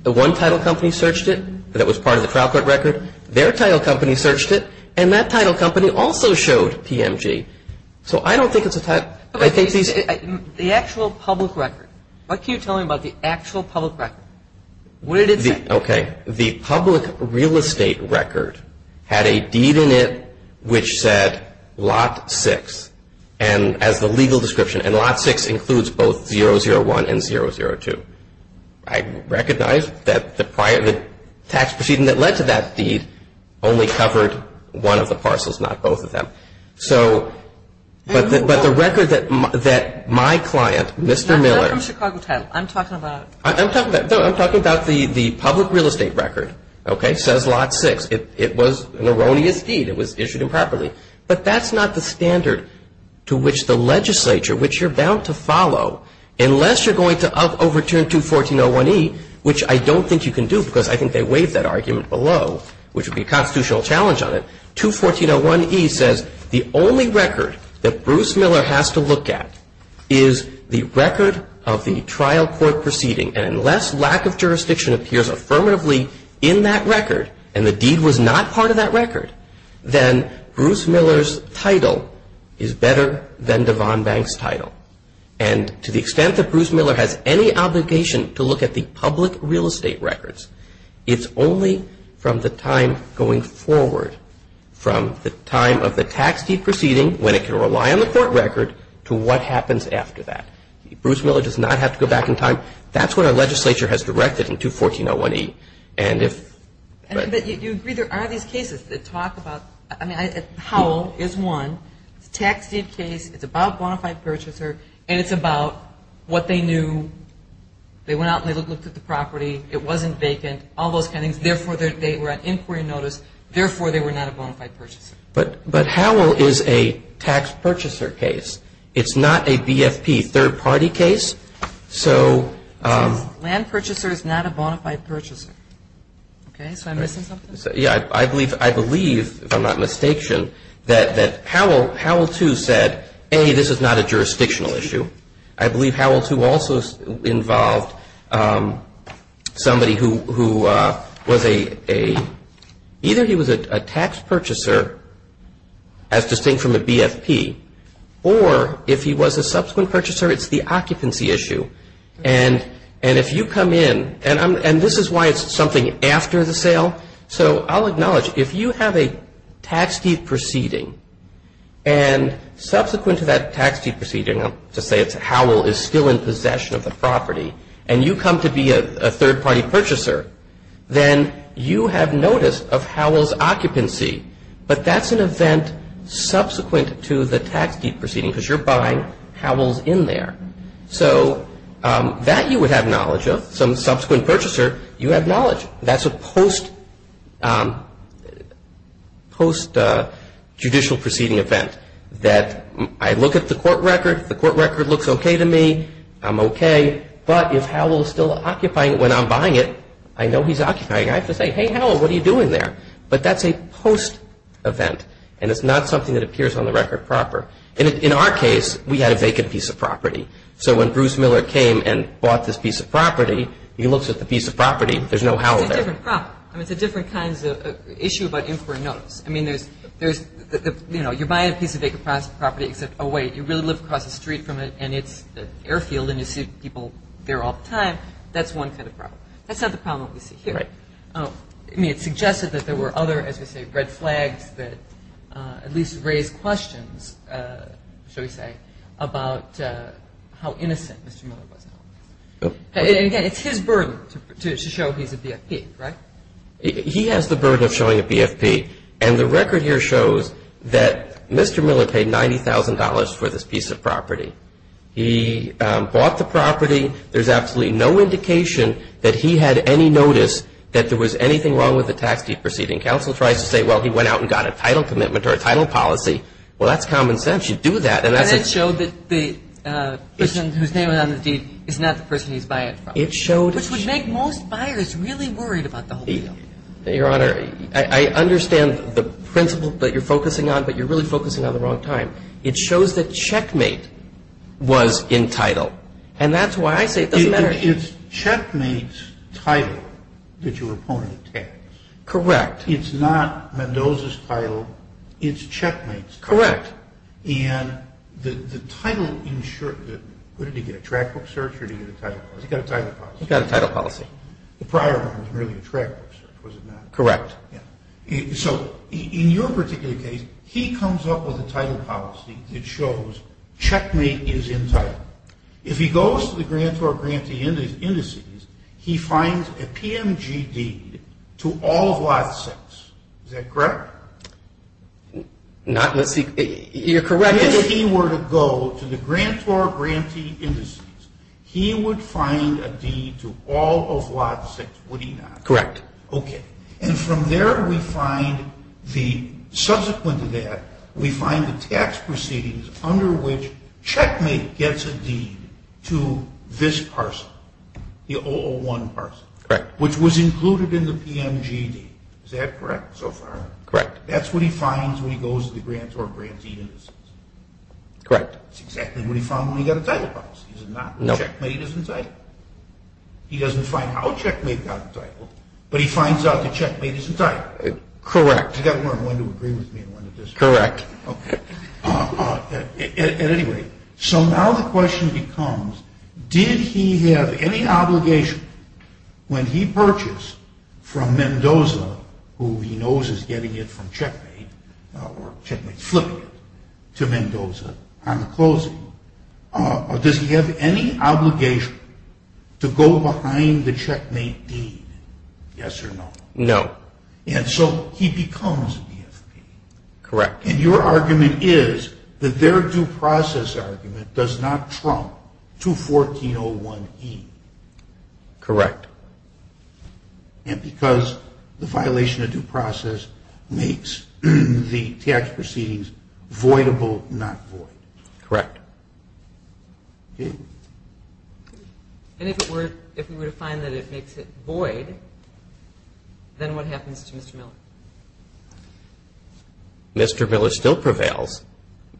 The one title company searched it, but it was part of the trial court record. Their title company searched it, and that title company also showed PMG. So I don't think it's a title. The actual public record, what can you tell me about the actual public record? What did it say? Okay. The public real estate record had a deed in it which said lot six as the legal description, and lot six includes both 001 and 002. I recognize that the tax proceeding that led to that deed only covered one of the parcels, not both of them. But the record that my client, Mr. Miller. I'm not from Chicago 10. I'm talking about. I'm talking about the public real estate record, okay, says lot six. It was an erroneous deed. It was issued improperly. But that's not the standard to which the legislature, which you're bound to follow, unless you're going to overturn 214.01e, which I don't think you can do because I think they waived that argument below, which would be a constitutional challenge on it. 214.01e says the only record that Bruce Miller has to look at is the record of the trial court proceeding. And unless lack of jurisdiction appears affirmatively in that record and the deed was not part of that record, then Bruce Miller's title is better than DeVon Banks' title. And to the extent that Bruce Miller has any obligation to look at the public real estate records, it's only from the time going forward, from the time of the tax deed proceeding, when it can rely on the court record, to what happens after that. Bruce Miller does not have to go back in time. That's what our legislature has directed in 214.01e. And if you agree there are these cases that talk about, I mean, Howell is one. It's a tax deed case. It's about a bona fide purchaser. And it's about what they knew. They went out and they looked at the property. It wasn't vacant, all those kind of things. Therefore, they were at inquiry notice. Therefore, they were not a bona fide purchaser. But Howell is a tax purchaser case. It's not a BFP, third party case. So ‑‑ Land purchaser is not a bona fide purchaser. Okay. So am I missing something? Yeah. I believe, if I'm not mistaken, that Howell too said, A, this is not a jurisdictional issue. I believe Howell too also involved somebody who was a ‑‑ either he was a tax purchaser as distinct from a BFP or if he was a subsequent purchaser, it's the occupancy issue. And if you come in, and this is why it's something after the sale. So I'll acknowledge, if you have a tax deed proceeding and subsequent to that tax deed proceeding, I'll just say it's Howell is still in possession of the property, and you come to be a third party purchaser, then you have notice of Howell's occupancy. But that's an event subsequent to the tax deed proceeding because you're buying Howell's in there. So that you would have knowledge of. Some subsequent purchaser, you have knowledge. That's a post judicial proceeding event that I look at the court record. The court record looks okay to me. I'm okay. But if Howell is still occupying it when I'm buying it, I know he's occupying it. I have to say, Hey, Howell, what are you doing there? But that's a post event. And it's not something that appears on the record proper. In our case, we had a vacant piece of property. So when Bruce Miller came and bought this piece of property, he looks at the piece of property. There's no Howell there. It's a different problem. It's a different kind of issue about inquiry notice. I mean, there's, you know, you're buying a piece of vacant property, except, oh, wait, you really live across the street from it, and it's an airfield, and you see people there all the time. That's one kind of problem. That's not the problem we see here. Right. I mean, it suggested that there were other, as we say, red flags that at least raised questions, shall we say, about how innocent Mr. Miller was. And again, it's his burden to show he's a BFP, right? He has the burden of showing a BFP. And the record here shows that Mr. Miller paid $90,000 for this piece of property. He bought the property. There's absolutely no indication that he had any notice that there was anything wrong with the tax deed proceeding. Counsel tries to say, well, he went out and got a title commitment or a title policy. Well, that's common sense. You do that. And that's a ---- And it showed that the person whose name was on the deed is not the person he's buying it from. It showed ---- Which would make most buyers really worried about the whole deal. Your Honor, I understand the principle that you're focusing on, but you're really focusing on the wrong time. It shows that checkmate was entitled. And that's why I say it doesn't matter. It's checkmate's title that your opponent attacks. Correct. It's not Mendoza's title. It's checkmate's title. Correct. And the title ensures that ---- Did he get a trackbook search or did he get a title policy? He got a title policy. He got a title policy. The prior one was merely a trackbook search, was it not? Correct. So in your particular case, he comes up with a title policy that shows checkmate is entitled. If he goes to the grantor-grantee indices, he finds a PMG deed to all of lot 6. Is that correct? Not ---- You're correct. If he were to go to the grantor-grantee indices, he would find a deed to all of lot 6, would he not? Correct. Okay. And from there we find the ---- Subsequent to that, we find the tax proceedings under which checkmate gets a deed to this parcel, the 001 parcel. Correct. Which was included in the PMG deed. Is that correct so far? Correct. That's what he finds when he goes to the grantor-grantee indices. Correct. That's exactly what he found when he got a title policy, is it not? No. Checkmate is entitled. He doesn't find how checkmate got entitled, but he finds out that checkmate is entitled. Correct. He's got to learn when to agree with me and when to disagree. Correct. Okay. At any rate, so now the question becomes, did he have any obligation when he purchased from Mendoza, who he knows is getting it from checkmate, or checkmate flipping it to Mendoza on the closing, does he have any obligation to go behind the checkmate deed, yes or no? No. And so he becomes a BFP. Correct. And your argument is that their due process argument does not trump 214-01E. Correct. And because the violation of due process makes the tax proceedings voidable, not void. Correct. And if we were to find that it makes it void, then what happens to Mr. Miller? Mr. Miller still prevails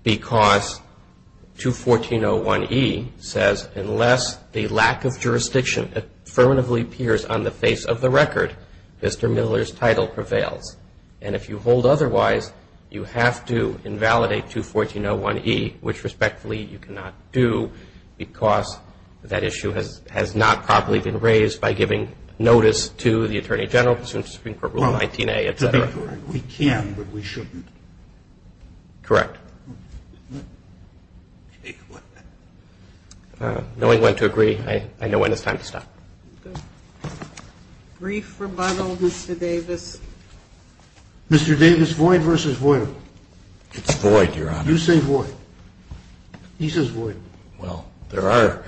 because 214-01E says unless the lack of jurisdiction affirmatively appears on the face of the record, Mr. Miller's title prevails. And if you hold otherwise, you have to invalidate 214-01E, which respectfully you cannot do, because that issue has not properly been raised by giving notice to the Attorney General pursuant to Supreme Court Rule 19A, et cetera. We can, but we shouldn't. Correct. Knowing when to agree, I know when it's time to stop. The brief rebuttal, Mr. Davis. Mr. Davis, void versus voidable. It's void, Your Honor. You say void. He says void. Well, there are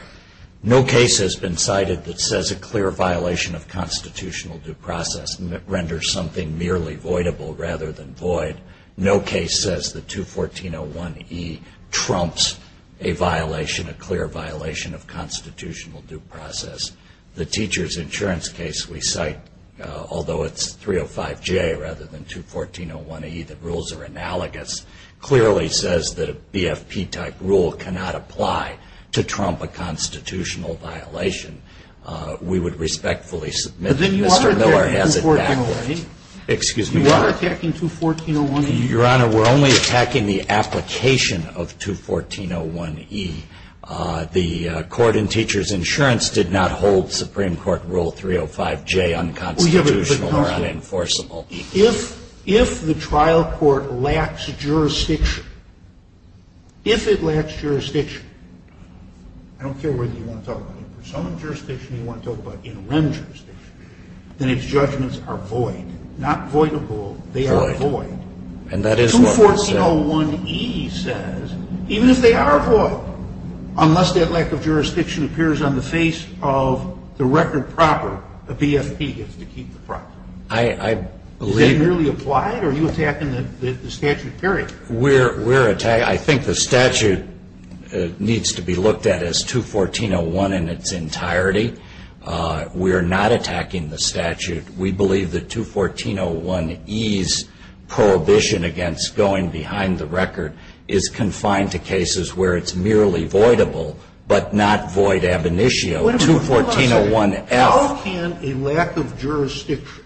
no case has been cited that says a clear violation of constitutional due process renders something merely voidable rather than void. No case says that 214-01E trumps a violation, a clear violation of constitutional due process. The teacher's insurance case we cite, although it's 305J rather than 214-01E, the rules are analogous, clearly says that a BFP-type rule cannot apply to trump a constitutional violation. We would respectfully submit that Mr. Miller has it backwards. But then you are attacking 214-01E. Excuse me, Your Honor. You are attacking 214-01E. Your Honor, we're only attacking the application of 214-01E. The court in teacher's insurance did not hold Supreme Court Rule 305J unconstitutional or unenforceable. If the trial court lacks jurisdiction, if it lacks jurisdiction, I don't care whether you want to talk about it for some jurisdiction or you want to talk about interim jurisdiction, then its judgments are void, not voidable. They are void. And that is what was said. 214-01E says, even if they are void, unless that lack of jurisdiction appears on the face of the record proper, the BFP gets to keep the property. I believe... Is that nearly applied or are you attacking the statute period? We're attacking... I think the statute needs to be looked at as 214-01 in its entirety. We are not attacking the statute. We believe that 214-01E's prohibition against going behind the record is confined to cases where it's merely voidable, but not void ab initio. 214-01F... How can a lack of jurisdiction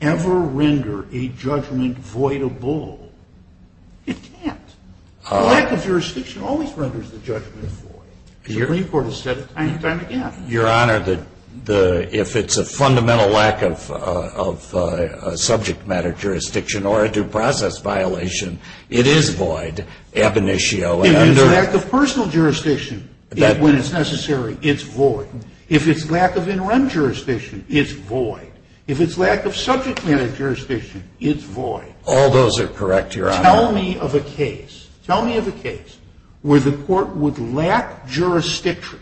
ever render a judgment voidable? It can't. A lack of jurisdiction always renders the judgment void. The Supreme Court has said it time and time again. Your Honor, if it's a fundamental lack of subject matter jurisdiction or a due process violation, it is void ab initio. If it's a lack of personal jurisdiction, when it's necessary, it's void. If it's lack of interim jurisdiction, it's void. If it's lack of subject matter jurisdiction, it's void. All those are correct, Your Honor. Tell me of a case, tell me of a case where the court would lack jurisdiction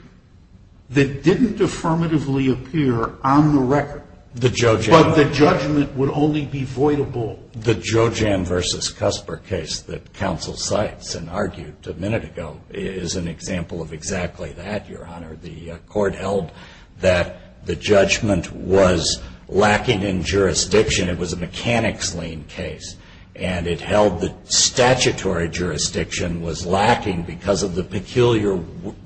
that didn't affirmatively appear on the record, but the judgment would only be voidable. The Jojam v. Cusper case that counsel cites and argued a minute ago is an example of exactly that, Your Honor. The court held that the judgment was lacking in jurisdiction. It was a mechanics lien case, and it held that statutory jurisdiction was lacking because of the peculiar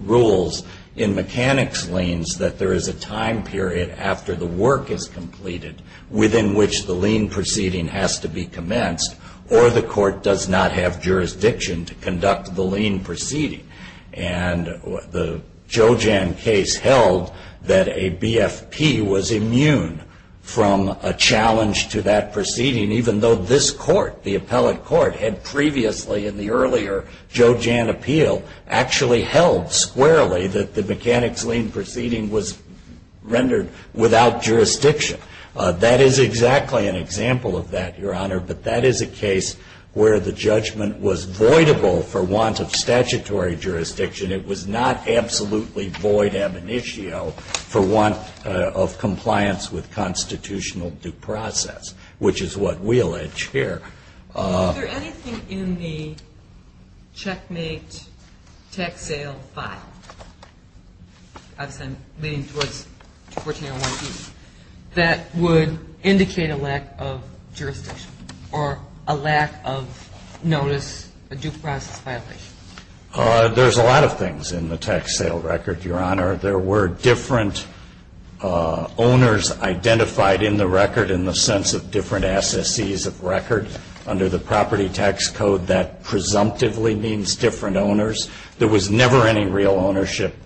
rules in mechanics liens that there is a time period after the work is completed within which the lien proceeding has to be commenced or the court does not have jurisdiction to conduct the lien proceeding. And the Jojam case held that a BFP was immune from a challenge to that proceeding, even though this court, the appellate court, had previously in the earlier Jojam appeal actually held squarely that the mechanics lien proceeding was rendered without jurisdiction. That is exactly an example of that, Your Honor, but that is a case where the judgment was voidable for want of statutory jurisdiction. It was not absolutely void ab initio for want of compliance with constitutional due process, which is what we allege here. Is there anything in the checkmate tax sale file leading towards 1401B that would indicate a lack of jurisdiction or a lack of notice, a due process violation? There's a lot of things in the tax sale record, Your Honor. There were different owners identified in the record in the sense of different SSCs of record under the property tax code that presumptively means different owners. There was never any real ownership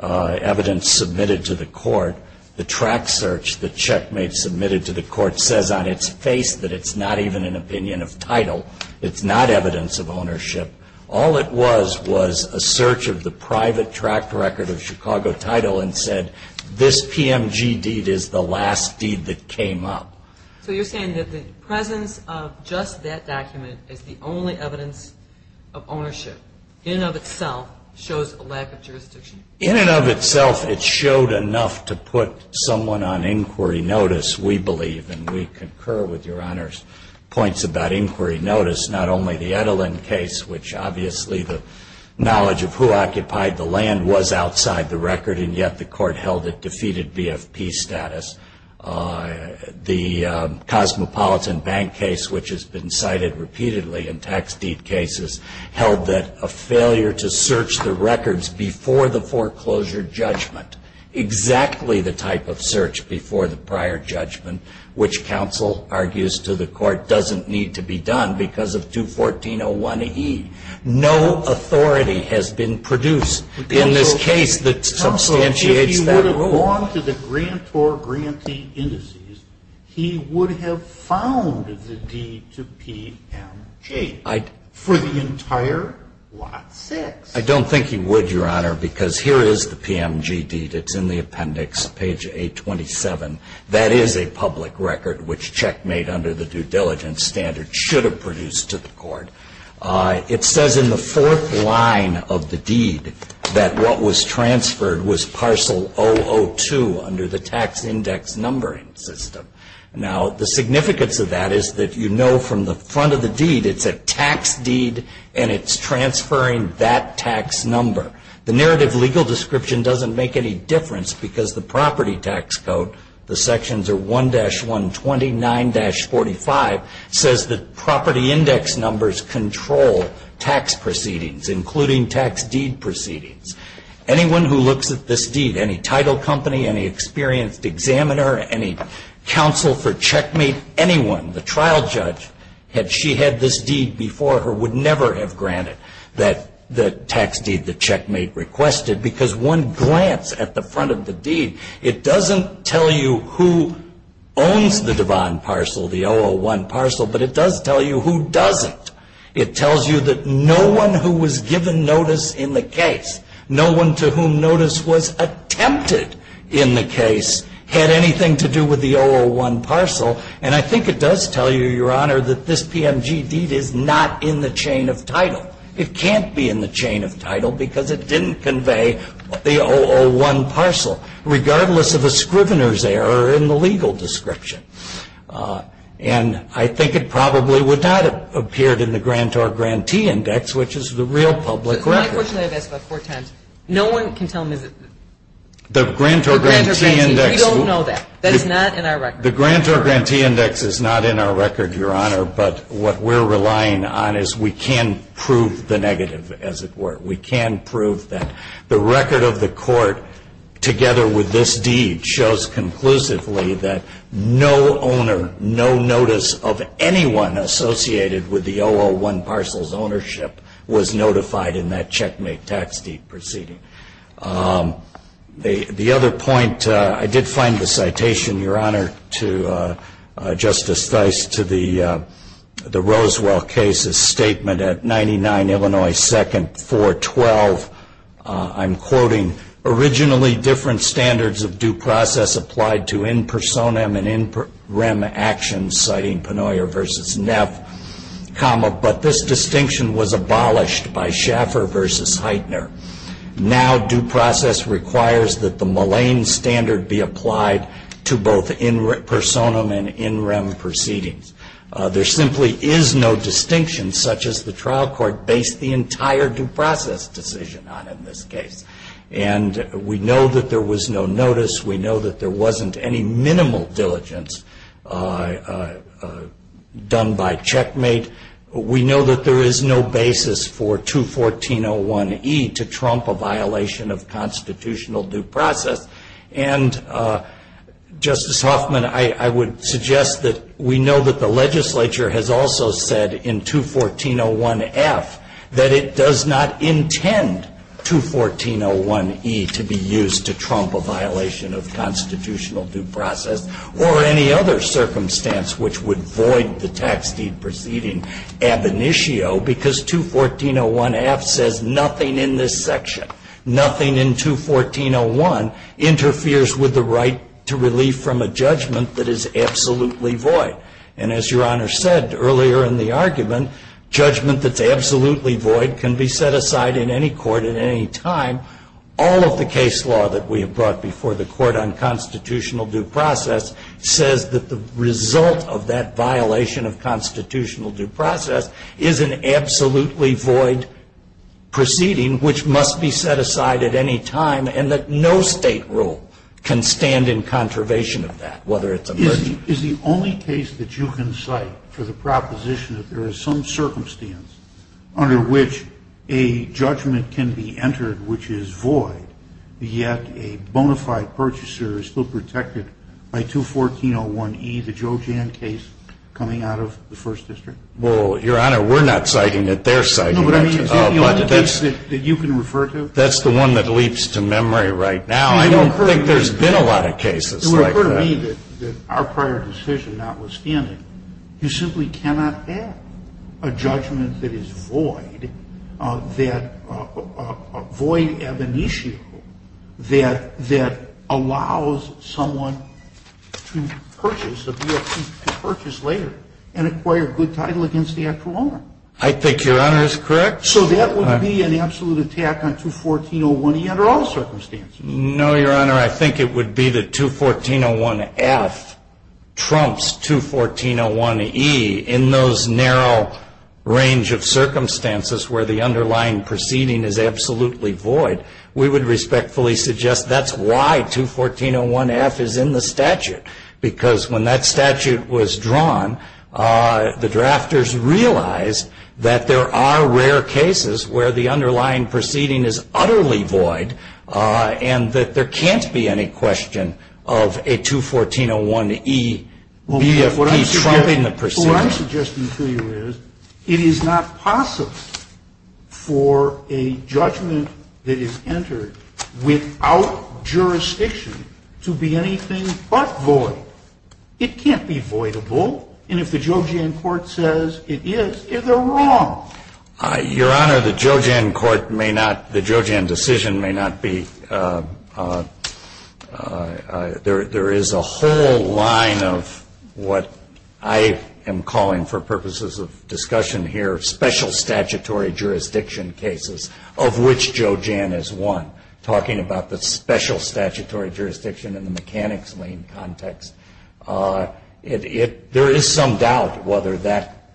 evidence submitted to the court. The track search the checkmate submitted to the court says on its face that it's not even an opinion of title. It's not evidence of ownership. All it was was a search of the private track record of Chicago title and said this PMG deed is the last deed that came up. So you're saying that the presence of just that document is the only evidence of ownership in and of itself shows a lack of jurisdiction? In and of itself, it showed enough to put someone on inquiry notice, we believe, and we concur with Your Honor's points about inquiry notice, not only the Edelin case, which obviously the knowledge of who occupied the land was outside the record and yet the court held it defeated BFP status. The Cosmopolitan Bank case, which has been cited repeatedly in tax deed cases, held that a failure to search the records before the foreclosure judgment, exactly the type of search before the prior judgment, which counsel argues to the court doesn't need to be done because of 214-01E. No authority has been produced in this case that substantiates that rule. According to the grantor grantee indices, he would have found the deed to PMG for the entire lot six. I don't think he would, Your Honor, because here is the PMG deed. It's in the appendix, page 827. That is a public record, which checkmate under the due diligence standard should have produced to the court. It says in the fourth line of the deed that what was transferred was parcel 002 under the tax index numbering system. Now the significance of that is that you know from the front of the deed it's a tax deed and it's transferring that tax number. The narrative legal description doesn't make any difference because the property tax code, the sections are 1-120, 9-45, says that property index numbers control tax proceedings, including tax deed proceedings. Anyone who looks at this deed, any title company, any experienced examiner, any counsel for checkmate, anyone, the trial judge, had she had this deed before her would never have granted the tax deed the checkmate requested because one glance at the front of the deed, it doesn't tell you who owns the Devon parcel, the 001 parcel, but it does tell you who doesn't. It tells you that no one who was given notice in the case, no one to whom notice was attempted in the case had anything to do with the 001 parcel. And I think it does tell you, Your Honor, that this PMG deed is not in the chain of title. It can't be in the chain of title because it didn't convey the 001 parcel, regardless of a scrivener's error in the legal description. And I think it probably would not have appeared in the grantor grantee index, which is the real public record. My question I've asked about four times. No one can tell me that the grantor grantee index. We don't know that. That is not in our record. The grantor grantee index is not in our record, Your Honor, but what we're relying on is we can prove the negative, as it were. We can prove that the record of the court, together with this deed, shows conclusively that no owner, no notice of anyone associated with the 001 parcel's ownership was notified in that checkmate tax deed proceeding. The other point, I did find the citation, Your Honor, to Justice Theis, to the Roswell case's statement at 99 Illinois 2nd, 412. I'm quoting, Originally, different standards of due process applied to in personam and in rem actions, citing Penoyer v. Neff, but this distinction was abolished by Schaffer v. Heitner. Now due process requires that the Moline standard be applied to both in personam and in rem proceedings. There simply is no distinction such as the trial court based the entire due process decision on in this case. And we know that there was no notice. We know that there wasn't any minimal diligence done by checkmate. We know that there is no basis for 214.01e to trump a violation of constitutional due process. And, Justice Hoffman, I would suggest that we know that the legislature has also said in 214.01f that it does not intend 214.01e to be used to trump a violation of constitutional due process or any other circumstance which would void the tax deed proceeding ab initio because 214.01f says nothing in this section, nothing in 214.01 interferes with the right to relief from a judgment that is absolutely void. And as Your Honor said earlier in the argument, judgment that's absolutely void can be set aside in any court at any time. All of the case law that we have brought before the court on constitutional due process says that the result of that violation of constitutional due process is an absolutely void proceeding which must be set aside at any time and that no state rule can stand in contrivation of that, whether it's emergency. Is the only case that you can cite for the proposition that there is some circumstance under which a judgment can be entered which is void, yet a bona fide purchaser is still protected by 214.01e, the Joe Jan case coming out of the First District? Well, Your Honor, we're not citing it. They're citing it. No, but I mean, is that the only case that you can refer to? That's the one that leaps to memory right now. I don't think there's been a lot of cases like that. It would occur to me that our prior decision notwithstanding, you simply cannot have a judgment that is void, that void ab initio, that allows someone to purchase later and acquire good title against the actual owner. I think Your Honor is correct. So that would be an absolute attack on 214.01e under all circumstances? No, Your Honor. I think it would be that 214.01f trumps 214.01e in those narrow range of circumstances where the underlying proceeding is absolutely void. We would respectfully suggest that's why 214.01f is in the statute because when that statute was drawn, the drafters realized that there are rare cases where the underlying proceeding is utterly void and that there can't be any question of a 214.01e BFP trumping the proceeding. What I'm suggesting to you is it is not possible for a judgment that is entered without jurisdiction to be anything but void. It can't be voidable. And if the Joe Jan court says it is, they're wrong. Your Honor, the Joe Jan court may not, the Joe Jan decision may not be. There is a whole line of what I am calling for purposes of discussion here special statutory jurisdiction cases of which Joe Jan is one. Talking about the special statutory jurisdiction in the mechanics lane context, there is some doubt whether that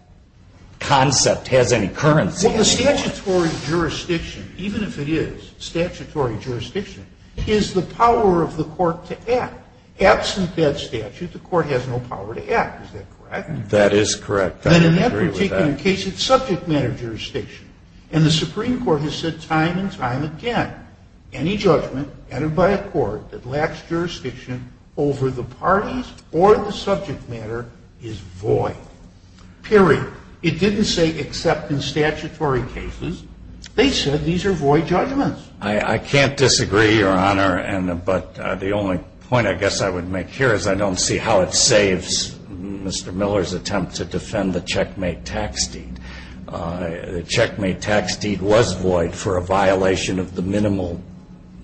concept has any currency. Well, the statutory jurisdiction, even if it is statutory jurisdiction, is the power of the court to act. Absent that statute, the court has no power to act. Is that correct? That is correct. I would agree with that. Then in that particular case, it's subject matter jurisdiction. And the Supreme Court has said time and time again, any judgment entered by a court that lacks jurisdiction over the parties or the subject matter is void. Period. It didn't say except in statutory cases. They said these are void judgments. I can't disagree, Your Honor. But the only point I guess I would make here is I don't see how it saves Mr. Miller's attempt to defend the checkmate tax deed. The checkmate tax deed was void for a violation of the minimal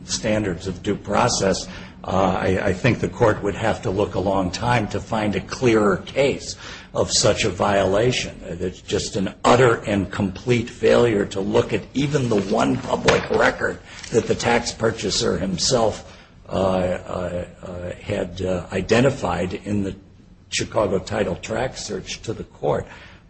standards of due process. I think the court would have to look a long time to find a clearer case of such a violation. It's just an utter and complete failure to look at even the one public record that the tax purchaser himself had identified in the Chicago title track search to the court.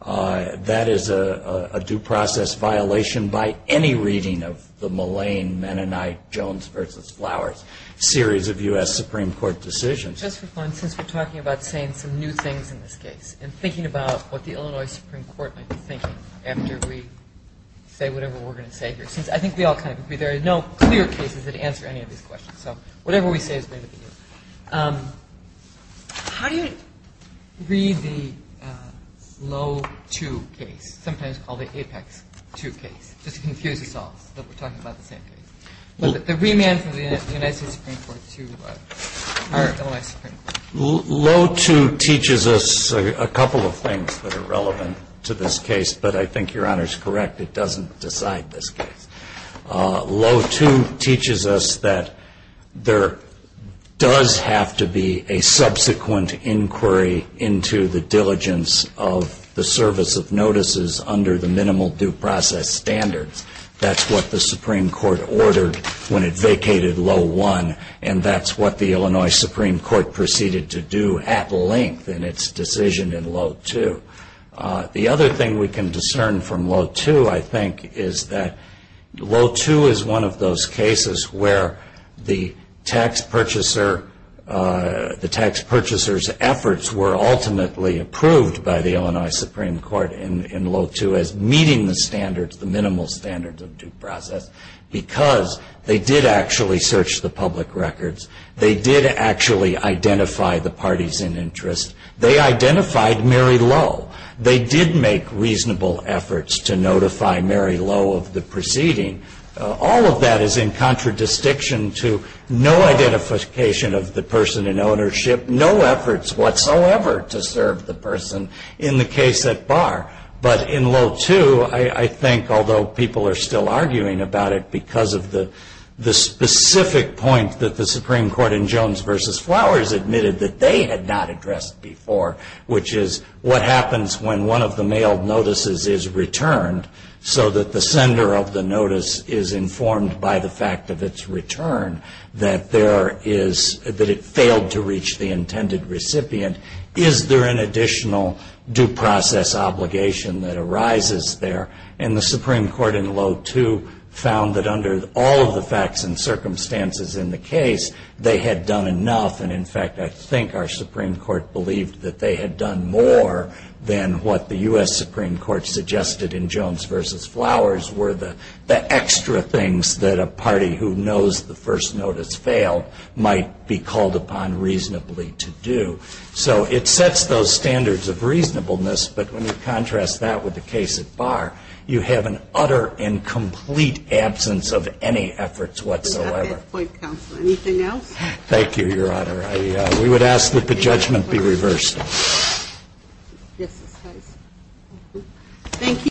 That is a due process violation by any reading of the Mullane-Mennonite-Jones v. Flowers series of U.S. Supreme Court decisions. Just for fun, since we're talking about saying some new things in this case and thinking about what the Illinois Supreme Court might be thinking after we say whatever we're going to say here, since I think we all kind of agree there are no clear cases that answer any of these questions. So whatever we say is going to be new. How do you read the Loewe 2 case, sometimes called the Apex 2 case, just to confuse us all that we're talking about the same thing? The remand from the United States Supreme Court to our Illinois Supreme Court. Loewe 2 teaches us a couple of things that are relevant to this case, but I think Your Honor is correct. It doesn't decide this case. Loewe 2 teaches us that there does have to be a subsequent inquiry into the diligence of the service of notices under the minimal due process standards. That's what the Supreme Court ordered when it vacated Loewe 1, and that's what the Illinois Supreme Court proceeded to do at length in its decision in Loewe 2. The other thing we can discern from Loewe 2, I think, is that Loewe 2 is one of those cases where the tax purchaser's efforts were ultimately approved by the Illinois Supreme Court in Loewe 2 as meeting the standards, the minimal standards of due process, because they did actually search the public records. They did actually identify the parties in interest. They identified Mary Lowe. They did make reasonable efforts to notify Mary Lowe of the proceeding. All of that is in contradistinction to no identification of the person in ownership, no efforts whatsoever to serve the person in the case at bar. But in Loewe 2, I think, although people are still arguing about it because of the specific point that the Supreme Court in Jones v. Flowers admitted that they had not addressed before, which is what happens when one of the mailed notices is returned so that the sender of the notice is informed by the fact of its return that it failed to reach the intended recipient, is there an additional due process obligation that arises there? And the Supreme Court in Loewe 2 found that under all of the facts and circumstances in the case, they had done enough. And, in fact, I think our Supreme Court believed that they had done more than what the U.S. Supreme Court suggested in Jones v. Flowers were the extra things that a party who knows the first notice failed might be called upon reasonably to do. So it sets those standards of reasonableness, but when you contrast that with the case at bar, you have an utter and complete absence of any efforts whatsoever. Anything else? Thank you, Your Honor. We would ask that the judgment be reversed. Thank you.